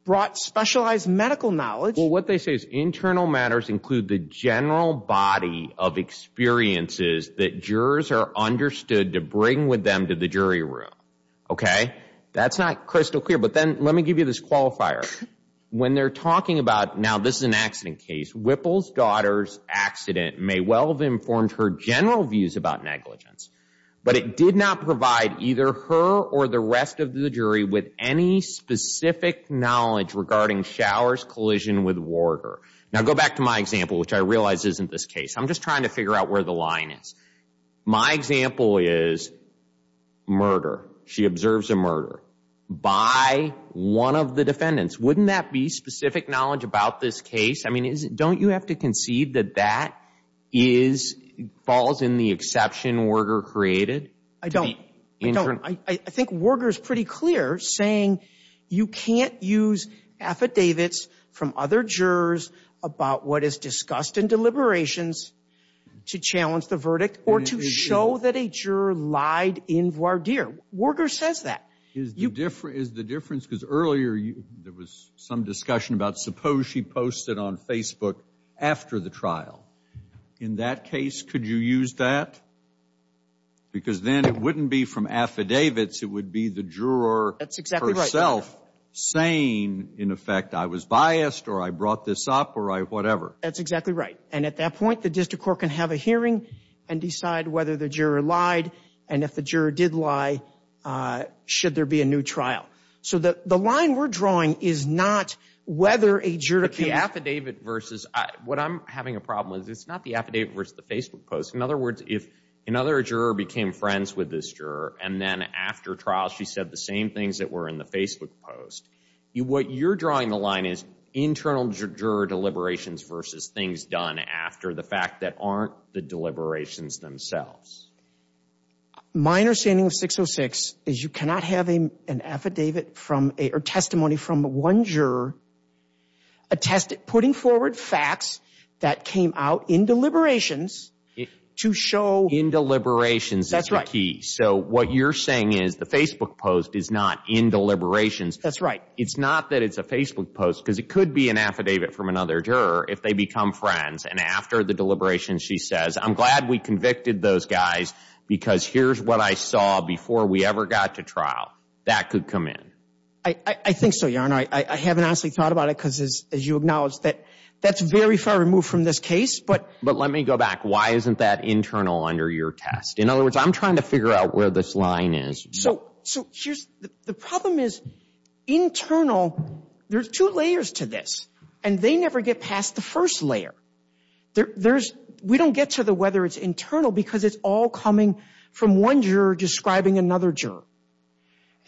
brought specialized medical knowledge. Well, what they say is internal matters include the general body of experiences that jurors are understood to bring with them to the jury room. Okay? That's not crystal clear. But then let me give you this qualifier. When they're talking about now this is an accident case, Whipple's daughter's accident may well have informed her general views about negligence. But it did not provide either her or the rest of the jury with any specific knowledge regarding Shower's collision with Warger. Now, go back to my example, which I realize isn't this case. I'm just trying to figure out where the line is. My example is murder. She observes a murder. By one of the defendants. Wouldn't that be specific knowledge about this case? I mean, don't you have to concede that that falls in the exception Warger created? I don't. I think Warger is pretty clear saying you can't use affidavits from other jurors about what is discussed in deliberations to challenge the verdict or to show that a juror lied in voir dire. Warger says that. Is the difference because earlier there was some discussion about suppose she posted on Facebook after the trial. In that case, could you use that? Because then it wouldn't be from affidavits. It would be the juror herself saying, in effect, I was biased or I brought this up or whatever. That's exactly right. And at that point, the district court can have a hearing and decide whether the juror lied. And if the juror did lie, should there be a new trial? So that the line we're drawing is not whether a juror. The affidavit versus what I'm having a problem with. It's not the affidavit versus the Facebook post. In other words, if another juror became friends with this juror and then after trial, she said the same things that were in the Facebook post. What you're drawing the line is internal juror deliberations versus things done after the fact that aren't the deliberations themselves. Minor standing with 606 is you cannot have an affidavit from a testimony from one juror. Attested putting forward facts that came out in deliberations to show in deliberations. That's right. So what you're saying is the Facebook post is not in deliberations. That's right. It's not that it's a Facebook post because it could be an affidavit from another juror if they become friends. And after the deliberation, she says, I'm glad we convicted those guys because here's what I saw before we ever got to trial. That could come in. I think so. I haven't actually thought about it because, as you acknowledge, that that's very far removed from this case. But but let me go back. Why isn't that internal under your test? In other words, I'm trying to figure out where this line is. So the problem is internal. There's two layers to this and they never get past the first layer. There's we don't get to the whether it's internal because it's all coming from one juror describing another juror.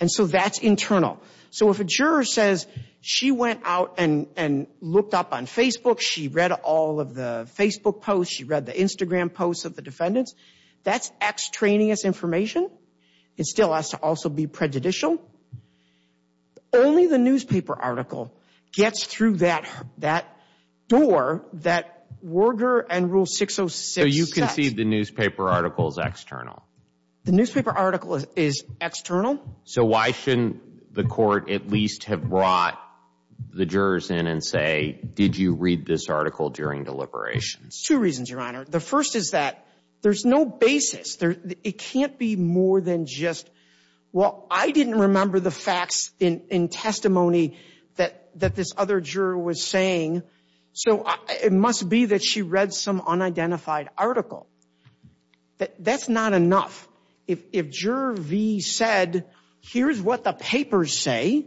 And so that's internal. So if a juror says she went out and looked up on Facebook, she read all of the Facebook posts, she read the Instagram posts of the defendants. That's extraneous information. It still has to also be prejudicial. Only the newspaper article gets through that that door that Werger and Rule 606. So you can see the newspaper article is external. The newspaper article is external. So why shouldn't the court at least have brought the jurors in and say, did you read this article during deliberation? Two reasons, Your Honor. The first is that there's no basis. It can't be more than just, well, I didn't remember the facts in testimony that that this other juror was saying. So it must be that she read some unidentified article. That's not enough. If juror V said, here's what the papers say.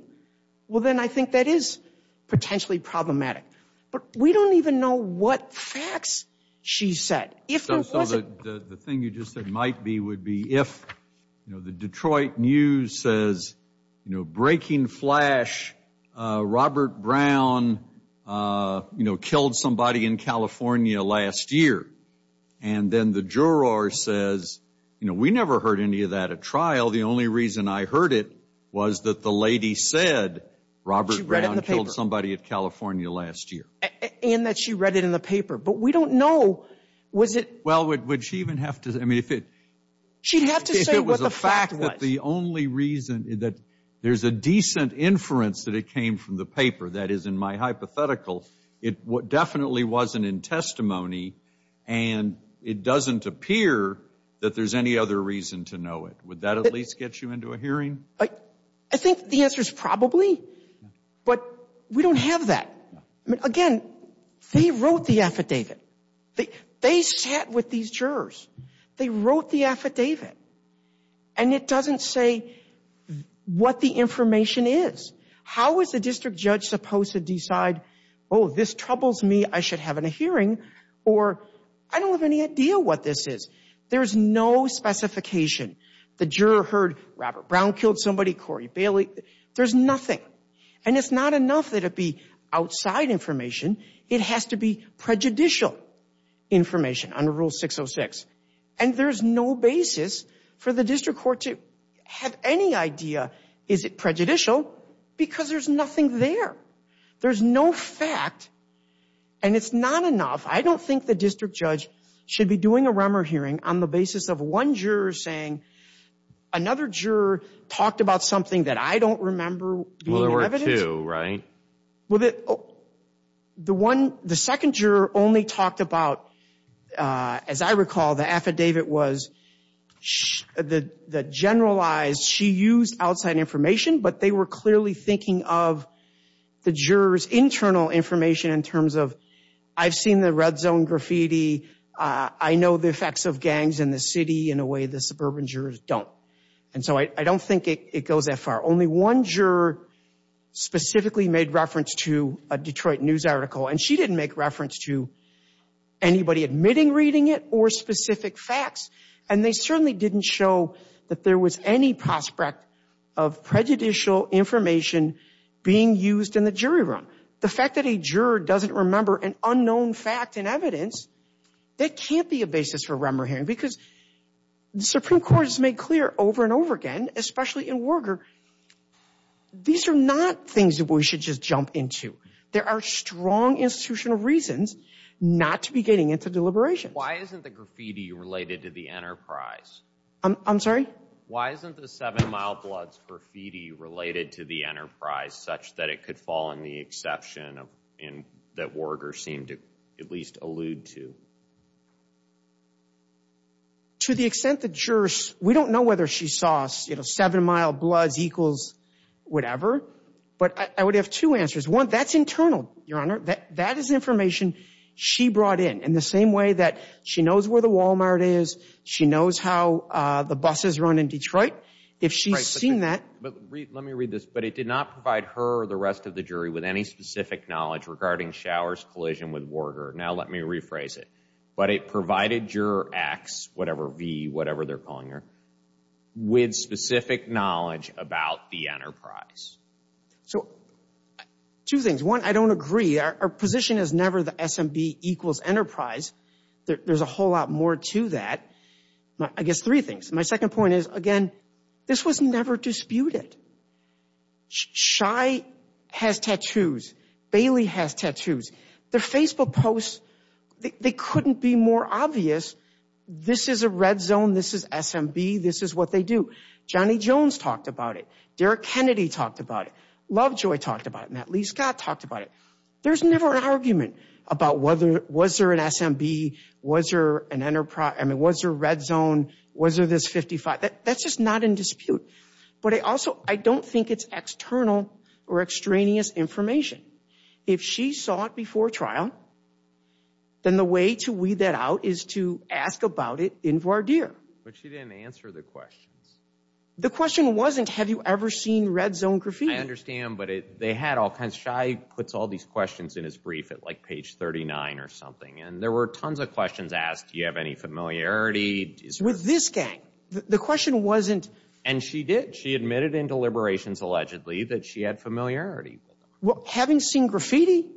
Well, then I think that is potentially problematic. But we don't even know what facts she said. So the thing you just said might be would be if, you know, the Detroit News says, you know, breaking flash, Robert Brown, you know, killed somebody in California last year. And then the juror says, you know, we never heard any of that at trial. The only reason I heard it was that the lady said Robert Brown killed somebody in California last year. And that she read it in the paper. But we don't know. Well, would she even have to? She'd have to say what the fact was. The only reason is that there's a decent inference that it came from the paper. That is, in my hypothetical, it definitely wasn't in testimony. And it doesn't appear that there's any other reason to know it. Would that at least get you into a hearing? I think the answer is probably. But we don't have that. Again, they wrote the affidavit. They sat with these jurors. They wrote the affidavit. And it doesn't say what the information is. How is the district judge supposed to decide, oh, this troubles me. I should have a hearing. Or I don't have any idea what this is. There's no specification. The juror heard Robert Brown killed somebody, Corey Bailey. There's nothing. And it's not enough that it be outside information. It has to be prejudicial information under Rule 606. And there's no basis for the district court to have any idea, is it prejudicial? Because there's nothing there. There's no fact. And it's not enough. I don't think the district judge should be doing a Remmer hearing on the basis of one juror saying another juror talked about something that I don't remember being evident. Well, there were two, right? Well, the second juror only talked about, as I recall, the affidavit was the generalized she used outside information, but they were clearly thinking of the juror's internal information in terms of I've seen the red zone graffiti. I know the effects of gangs in the city in a way the suburban jurors don't. And so I don't think it goes that far. Only one juror specifically made reference to a Detroit news article. And she didn't make reference to anybody admitting reading it or specific facts. And they certainly didn't show that there was any prospect of prejudicial information being used in the jury room. The fact that a juror doesn't remember an unknown fact in evidence, that can't be a basis for Remmer hearing because the Supreme Court has made clear over and over again, especially in Warburg, these are not things that we should just jump into. There are strong institutional reasons not to be getting into deliberation. Why isn't the graffiti related to the enterprise? I'm sorry. Why isn't the seven mile blood graffiti related to the enterprise such that it could fall in the exception of in that word or seem to at least allude to. To the extent the jurors, we don't know whether she saw us, you know, seven mile blood equals whatever, but I would have two answers. One that's internal, your honor, that is information she brought in in the same way that she knows where the Walmart is. She knows how the buses run in Detroit. If she's seen that. Let me read this, but it did not provide her the rest of the jury with any specific knowledge regarding showers collision with Warburg. Now let me rephrase it, but it provided your acts, whatever V, whatever they're calling her with specific knowledge about the enterprise. So two things. One, I don't agree. Our position has never the SMB equals enterprise. There's a whole lot more to that. I guess three things. My second point is again, this was never disputed. Shy has tattoos. Bailey has tattoos. The Facebook posts, they couldn't be more obvious. This is a red zone. This is SMB. This is what they do. Johnny Jones talked about it. Derek Kennedy talked about it. Lovejoy talked about it. Lee Scott talked about it. There's never an argument about whether, was there an SMB? Was there an enterprise? I mean, was there a red zone? Was there this 55? That's just not in dispute. But I also, I don't think it's external or extraneous information. If she saw it before trial, then the way to weed that out is to ask about it in voir dire. But she didn't answer the question. The question wasn't, have you ever seen red zone graffiti? I understand, but they had offense. Shy puts all these questions in his brief at like page 39 or something. And there were tons of questions asked. Do you have any familiarity? With this gang? The question wasn't. And she did. She admitted in deliberations allegedly that she had familiarity. Having seen graffiti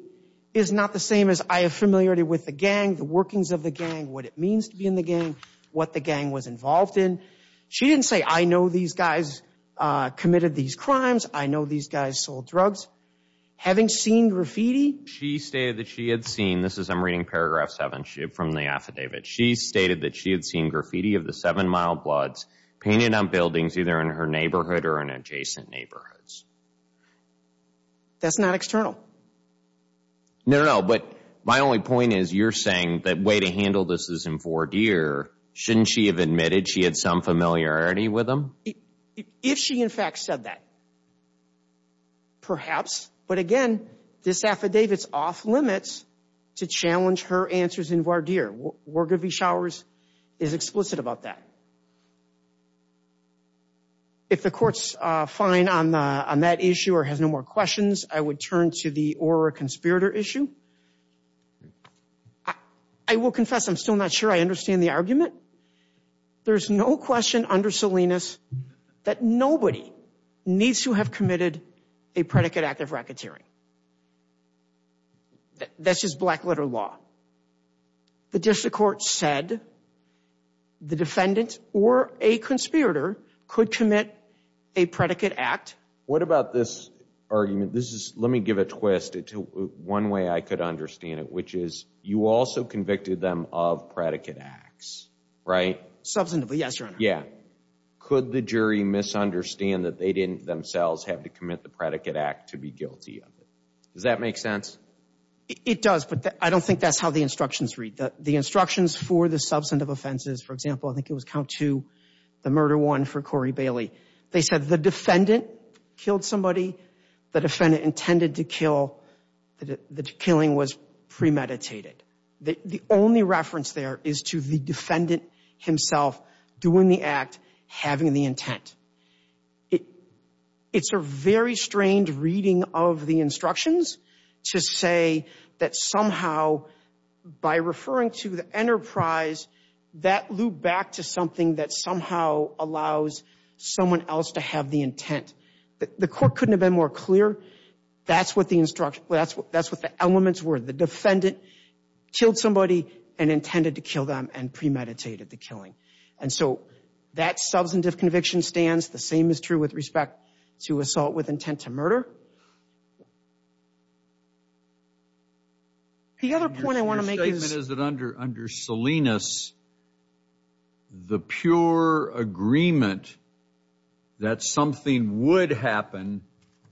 is not the same as I have familiarity with the gang, the workings of the gang, what it means to be in the gang, what the gang was involved in. She didn't say, I know these guys committed these crimes. I know these guys sold drugs. Having seen graffiti. She stated that she had seen, this is, I'm reading paragraph seven. She had from the affidavit. She stated that she had seen graffiti of the seven mild bloods painted on buildings, either in her neighborhood or in adjacent neighborhoods. That's not external. No, no, no. But my only point is you're saying that way to handle this is in four deer. Shouldn't she have admitted she had some familiarity with them. If she in fact said that. Perhaps, but again, this affidavits off limits. To challenge her answers in Vardir. We're going to be showers is explicit about that. If the court's fine on that issue or has no more questions, I would turn to the, or a conspirator issue. I will confess. I'm still not sure I understand the argument. There's no question under Salinas that nobody needs to have committed a predicate active racketeering. That's just black letter law. The district court said the defendant or a conspirator could commit a predicate act. What about this argument? This is, let me give a twist to one way I could understand it, which is you also convicted them of predicate acts. Right. Yeah. Could the jury misunderstand that they didn't themselves have to commit the predicate act to be guilty of it? Does that make sense? It does, but I don't think that's how the instructions read. The instructions for the substantive offenses, for example, I think it was count to the murder one for Corey Bailey. They said the defendant killed somebody. The defendant intended to kill. The killing was premeditated. The only reference there is to the defendant himself doing the act, having the intent. It's a very strange reading of the instructions to say that somehow by referring to the enterprise, that loop back to something that somehow allows someone else to have the intent. The court couldn't have been more clear. That's what the instruction, that's what, that's what the elements were. The defendant killed somebody and intended to kill them and premeditated the killing. And so that substantive conviction stands. The same is true with respect to assault with intent to murder. The other point I want to make is- Your statement is that under Salinas, the pure agreement that something would happen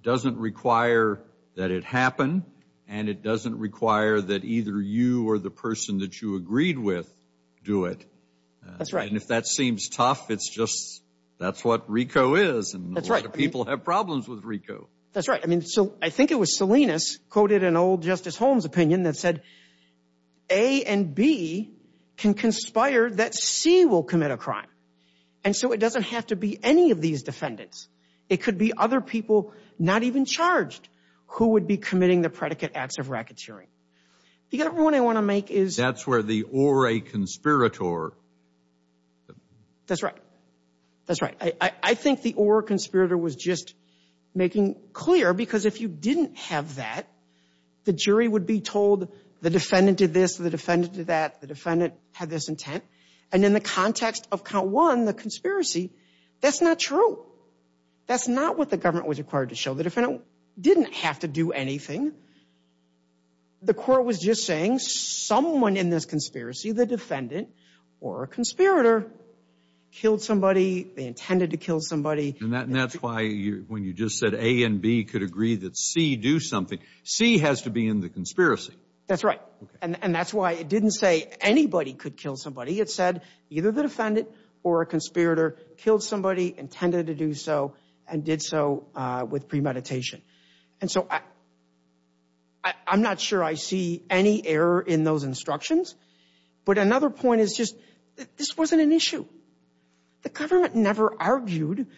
doesn't require that it happen and it doesn't require that either you or the person that you agreed with do it. That's right. And if that seems tough, it's just, that's what RICO is. And a lot of people have problems with RICO. That's right. I mean, so I think it was Salinas quoted an old Justice Holmes opinion that said A and B can conspire that C will commit a crime. And so it doesn't have to be any of these defendants. It could be other people, not even charged, who would be committing the predicate acts of racketeering. The other point I want to make is- That's where the or a conspirator- That's right. That's right. I think the or conspirator was just making clear because if you didn't have that, the jury would be told the defendant did this, the defendant did that, the defendant had this intent. And in the context of count one, the conspiracy, that's not true. That's not what the government was required to show. The defendant didn't have to do anything. The court was just saying someone in this conspiracy, the defendant or a conspirator, killed somebody, they intended to kill somebody. And that's why when you just said A and B could agree that C do something, C has to be in the conspiracy. That's right. And that's why it didn't say anybody could kill somebody. It said either the defendant or a conspirator killed somebody, intended to do so, and did so with premeditation. And so I'm not sure I see any error in those instructions. But another point is just this wasn't an issue. The government never argued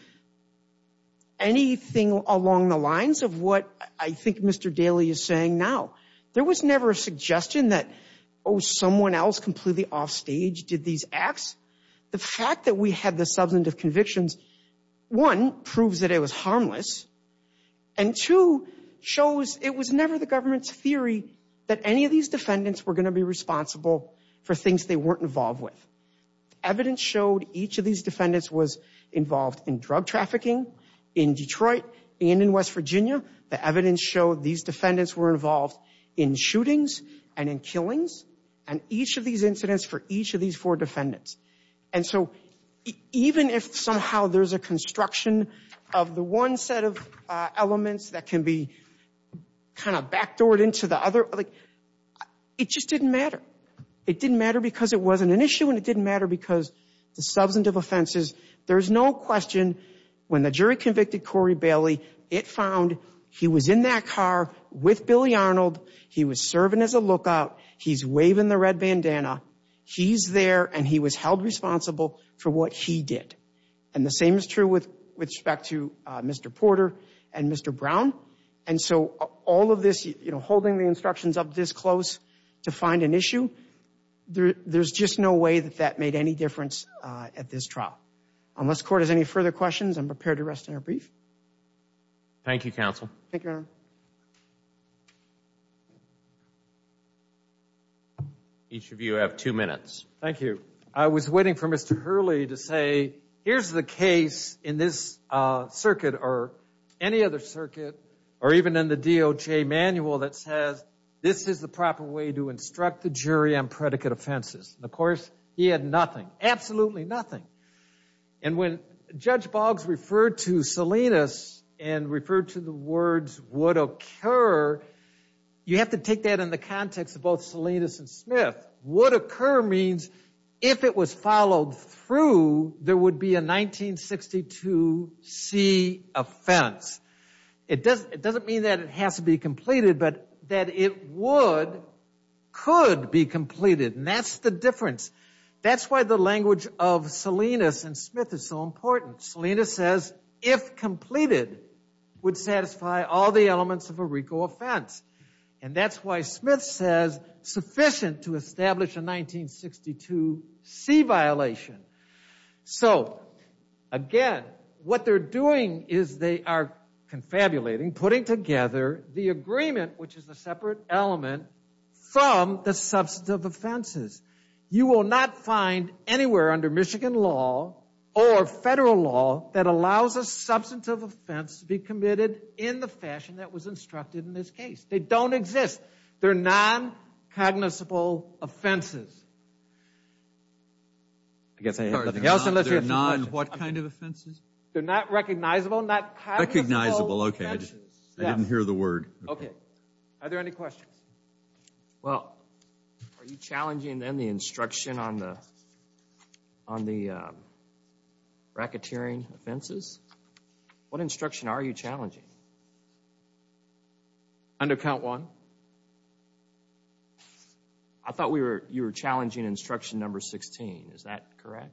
anything along the lines of what I think Mr. Daley is saying now. There was never a suggestion that, oh, someone else completely offstage did these acts. The fact that we had the substantive convictions, one, proves that it was harmless, and two, shows it was never the government's theory that any of these defendants were going to be responsible for things they weren't involved with. Evidence showed each of these defendants was involved in drug trafficking in Detroit and in West Virginia. The evidence showed these defendants were involved in shootings and in killings, and each of these incidents for each of these four defendants. And so even if somehow there's a construction of the one set of elements that can be kind of backdoored into the other, it just didn't matter. It didn't matter because it wasn't an issue, and it didn't matter because the substantive offenses, there's no question when the jury convicted Corey Daley, it found he was in that car with Billy Arnold. He was serving as a lookout. He's waving the red bandana. He's there, and he was held responsible for what he did. And the same is true with respect to Mr. Porter and Mr. Brown. And so all of this, you know, holding the instructions up this close to find an issue, there's just no way that that made any difference at this trial. Unless the court has any further questions, I'm prepared to rest in a brief. Thank you, counsel. Thank you. Each of you have two minutes. Thank you. I was waiting for Mr. Hurley to say here's the case in this circuit or any other circuit or even in the DOJ manual that says this is the proper way to instruct the jury on predicate offenses. Of course, he had nothing, absolutely nothing. And when Judge Boggs referred to Salinas and referred to the words would occur, you have to take that in the context of both Salinas and Smith. Would occur means if it was followed through, there would be a 1962C offense. It doesn't mean that it has to be completed, but that it would, could be a difference. That's why the language of Salinas and Smith is so important. Salinas says if completed would satisfy all the elements of a RICO offense. And that's why Smith says sufficient to establish a 1962C violation. So, again, what they're doing is they are confabulating, putting together the You will not find anywhere under Michigan law or federal law that allows a substantive offense to be committed in the fashion that was instructed in this case. They don't exist. They're non-cognizable offenses. They're not what kind of offenses? They're not recognizable, not cognizable offenses. Recognizable, okay. I didn't hear the word. Okay. Are there any questions? Well, are you challenging any instruction on the racketeering offenses? What instruction are you challenging? Under count one. I thought you were challenging instruction number 16. Is that correct?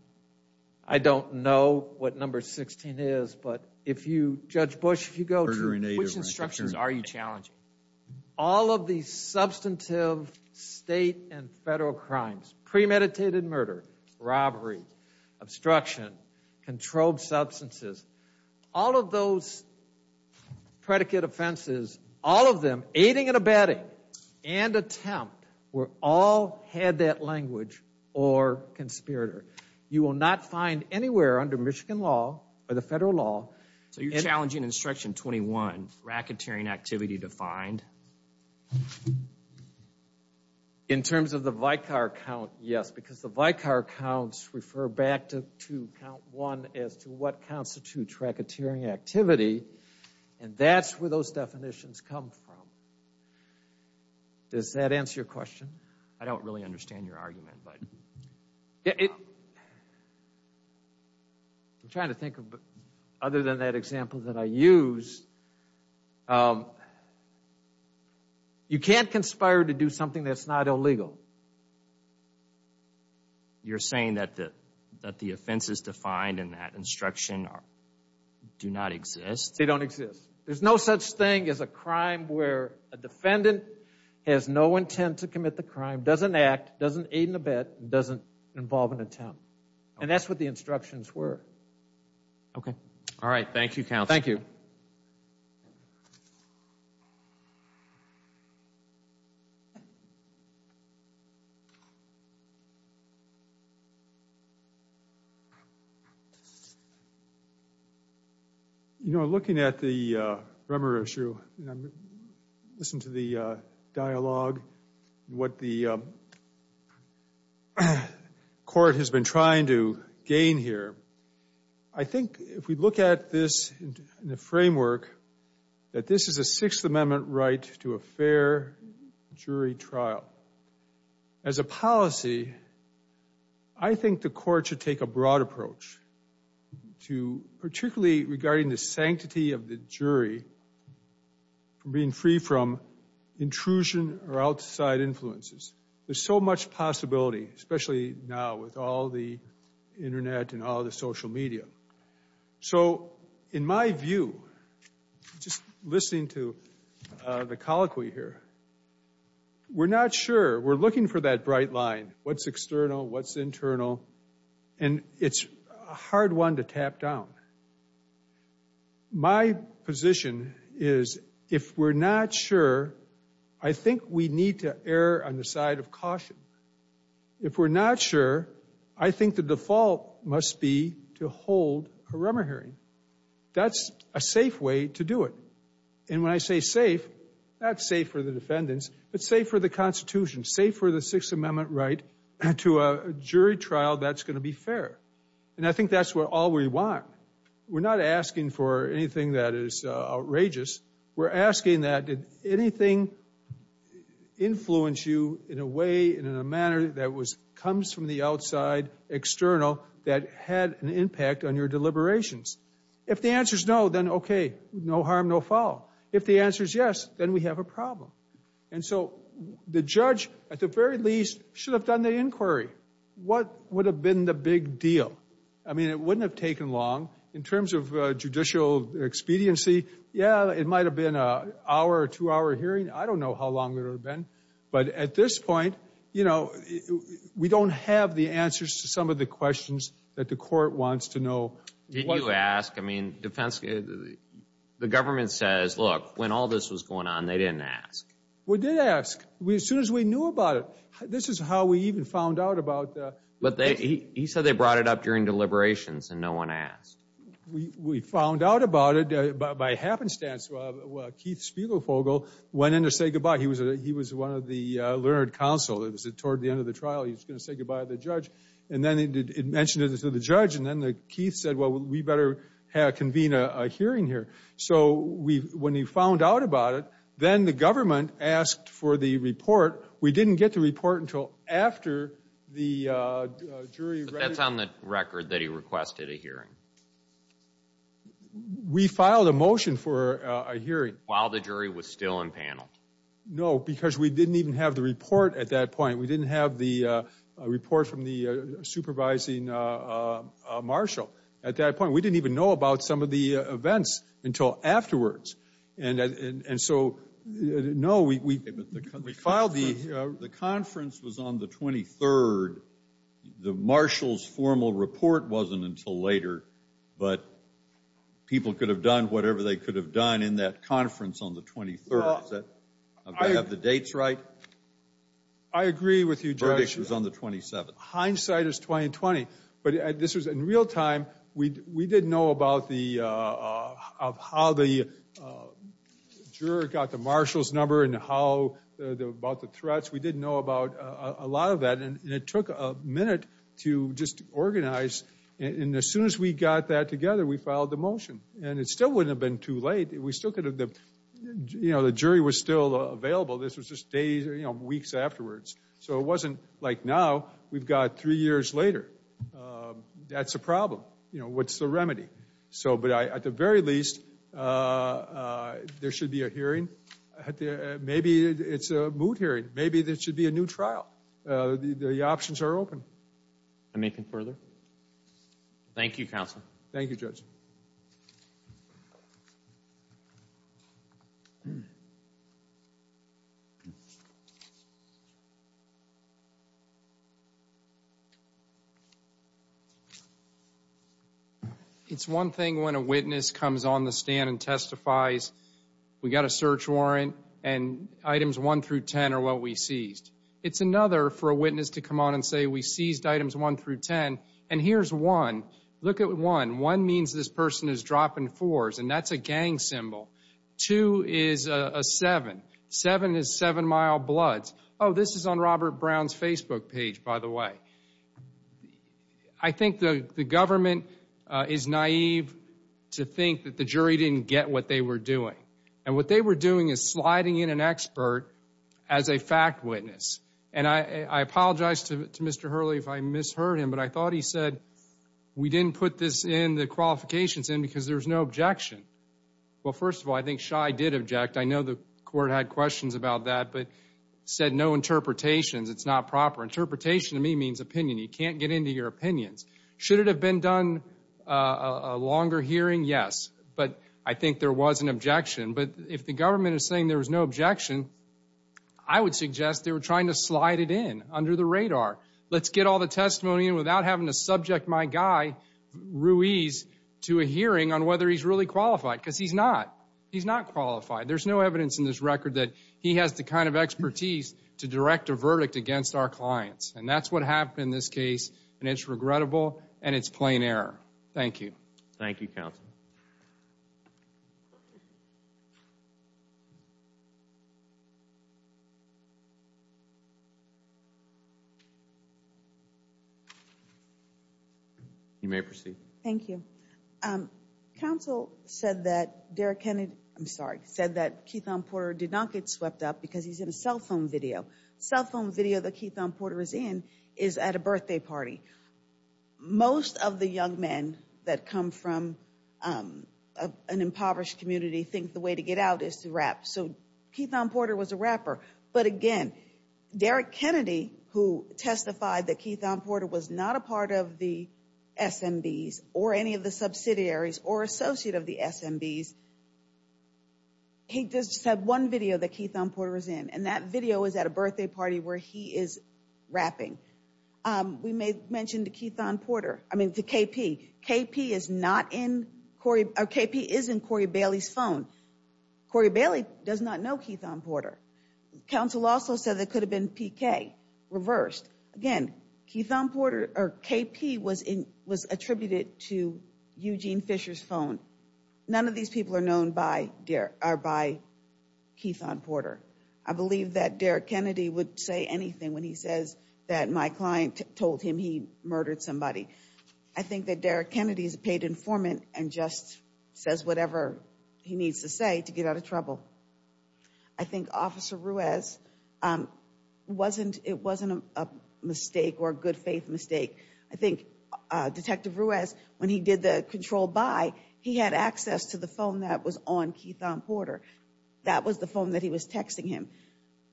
I don't know what number 16 is, but if you, Judge Bush, if you go through, which instructions are you challenging? All of the substantive state and federal crimes, premeditated murder, robbery, obstruction, controlled substances, all of those predicate offenses, all of them, aiding and abetting and attempt, were all head that language or conspirator. You will not find anywhere under Michigan law or the federal law. So you're challenging instruction 21, racketeering activity defined? In terms of the Vicar count, yes, because the Vicar counts refer back to count one as to what constitutes racketeering activity, and that's where those definitions come from. Does that answer your question? I don't really understand your argument. I'm trying to think of other than that example that I used. You can't conspire to do something that's not illegal. You're saying that the offenses defined in that instruction do not exist? They don't exist. There's no such thing as a crime where a defendant has no intent to commit the crime, doesn't act, doesn't aid and abet, doesn't involve an attempt. And that's what the instructions were. Okay. All right. Thank you, counsel. Thank you. You know, looking at the Bremer issue, listen to the dialogue, what the court has been trying to gain here. I think if we look at this in the framework that this is a Sixth Amendment right to a fair jury trial, as a policy, I think the court should take a broad approach to particularly regarding the sanctity of the jury from being free from intrusion or outside influences. There's so much possibility, especially now with all the Internet and all the social media. So in my view, just listening to the colloquy here, we're not sure. We're looking for that bright line. What's external? What's internal? And it's a hard one to tap down. My position is if we're not sure, I think we need to err on the side of caution. If we're not sure, I think the default must be to hold a rumor hearing. That's a safe way to do it. And when I say safe, that's safe for the defendants. It's safe for the Constitution, safe for the Sixth Amendment right to a jury trial. That's going to be fair. And I think that's all we want. We're not asking for anything that is outrageous. We're asking that if anything influenced you in a way, in a manner that comes from the outside, external, that had an impact on your deliberations. If the answer is no, then okay, no harm, no foul. If the answer is yes, then we have a problem. And so the judge, at the very least, should have done the inquiry. What would have been the big deal? I mean, it wouldn't have taken long. In terms of judicial expediency, yeah, it might have been an hour or two hour hearing. I don't know how long it would have been. But at this point, you know, we don't have the answers to some of the questions that the court wants to know. Did you ask? I mean, the government says, look, when all this was going on, they didn't ask. We did ask. As soon as we knew about it. This is how we even found out about it. He said they brought it up during deliberations and no one asked. We found out about it by happenstance. Keith Spiegelfogel went in to say goodbye. He was one of the learned counsel. Towards the end of the trial, he was going to say goodbye to the judge. And then he mentioned it to the judge. And then Keith said, well, we better convene a hearing here. So when he found out about it, then the government asked for the report. We didn't get the report until after the jury read it. But that's on the record that he requested a hearing. We filed a motion for a hearing. While the jury was still in panel. No, because we didn't even have the report at that point. We didn't have the report from the supervising marshal at that point. We didn't even know about some of the events until afterwards. And so, no, the conference was on the 23rd. The marshal's formal report wasn't until later. But people could have done whatever they could have done in that conference on the 23rd. Do I have the dates right? I agree with you, Judge. It was on the 27th. Hindsight is 20-20. In real time, we didn't know about how the jury got the marshal's number and about the threats. We didn't know about a lot of that. And it took a minute to just organize. And as soon as we got that together, we filed the motion. And it still wouldn't have been too late. The jury was still available. This was just days or weeks afterwards. So it wasn't like now. We've got three years later. That's a problem. What's the remedy? But at the very least, there should be a hearing. Maybe it's a moot hearing. Maybe there should be a new trial. The options are open. Anything further? Thank you, Counselor. Thank you, Judge. Let's see. It's one thing when a witness comes on the stand and testifies we got a search warrant and items 1 through 10 are what we seized. It's another for a witness to come on and say we seized items 1 through 10. And here's 1. Look at 1. 1 means this person is dropping 4s and that's a gang symbol. 2 is a 7. 7 is 7-mile bloods. Oh, this is on Robert Brown's Facebook page, by the way. I think the government is naive to think that the jury didn't get what they were doing. And what they were doing is sliding in an expert as a fact witness. And I apologize to Mr. Hurley if I misheard him, but I thought he said we didn't put this in, the qualifications in, because there's no objection. Well, first of all, I think Shy did object. I know the court had questions about that, but said no interpretations. It's not proper. Interpretation to me means opinion. He can't get into your opinions. Should it have been done a longer hearing? Yes. But I think there was an objection. But if the government is saying there was no objection, I would suggest they were trying to slide it in under the radar. Let's get all the testimony in without having to subject my guy, Ruiz, to a hearing on whether he's really qualified, because he's not. He's not qualified. There's no evidence in this record that he has the kind of expertise to direct a verdict against our clients. And that's what happened in this case, and it's regrettable and it's plain error. Thank you. Thank you, counsel. You may proceed. Thank you. Counsel said that Derek Kennedy – I'm sorry – said that Keith-on-Porter did not get swept up because he's in a cell phone video. The cell phone video that Keith-on-Porter is in is at a birthday party. Most of the young men that come from an impoverished community think the way to get out is to rap. So Keith-on-Porter was a rapper. But, again, Derek Kennedy, who testified that Keith-on-Porter was not a part of the SMBs or any of the subsidiaries or associate of the SMBs, he does have one video that Keith-on-Porter is in, and that video is at a birthday party where he is rapping. We may mention to Keith-on-Porter – I mean, to KP. KP is not in – KP is in Corey Bailey's phone. Corey Bailey does not know Keith-on-Porter. Counsel also said it could have been PK, reversed. Again, Keith-on-Porter – or KP was attributed to Eugene Fisher's phone. None of these people are known by Keith-on-Porter. I believe that Derek Kennedy would say anything when he says that my client told him he murdered somebody. I think that Derek Kennedy is a paid informant and just says whatever he needs to say to get out of trouble. I think Officer Ruiz wasn't – it wasn't a mistake or a good faith mistake. I think Detective Ruiz, when he did the control buy, he had access to the phone that was on Keith-on-Porter. That was the phone that he was texting him.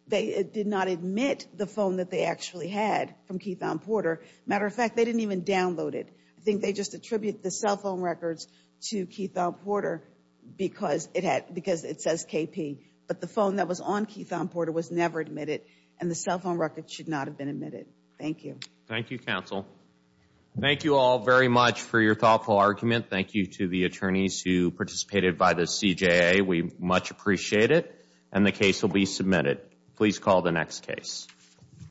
They did not admit the phone that they actually had from Keith-on-Porter. Matter of fact, they didn't even download it. I think they just attribute the cell phone records to Keith-on-Porter because it says KP. But the phone that was on Keith-on-Porter was never admitted, and the cell phone records should not have been admitted. Thank you. Thank you, Counsel. Thank you all very much for your thoughtful argument. Thank you to the attorneys who participated by the CJA. We much appreciate it, and the case will be submitted. Please call the next case.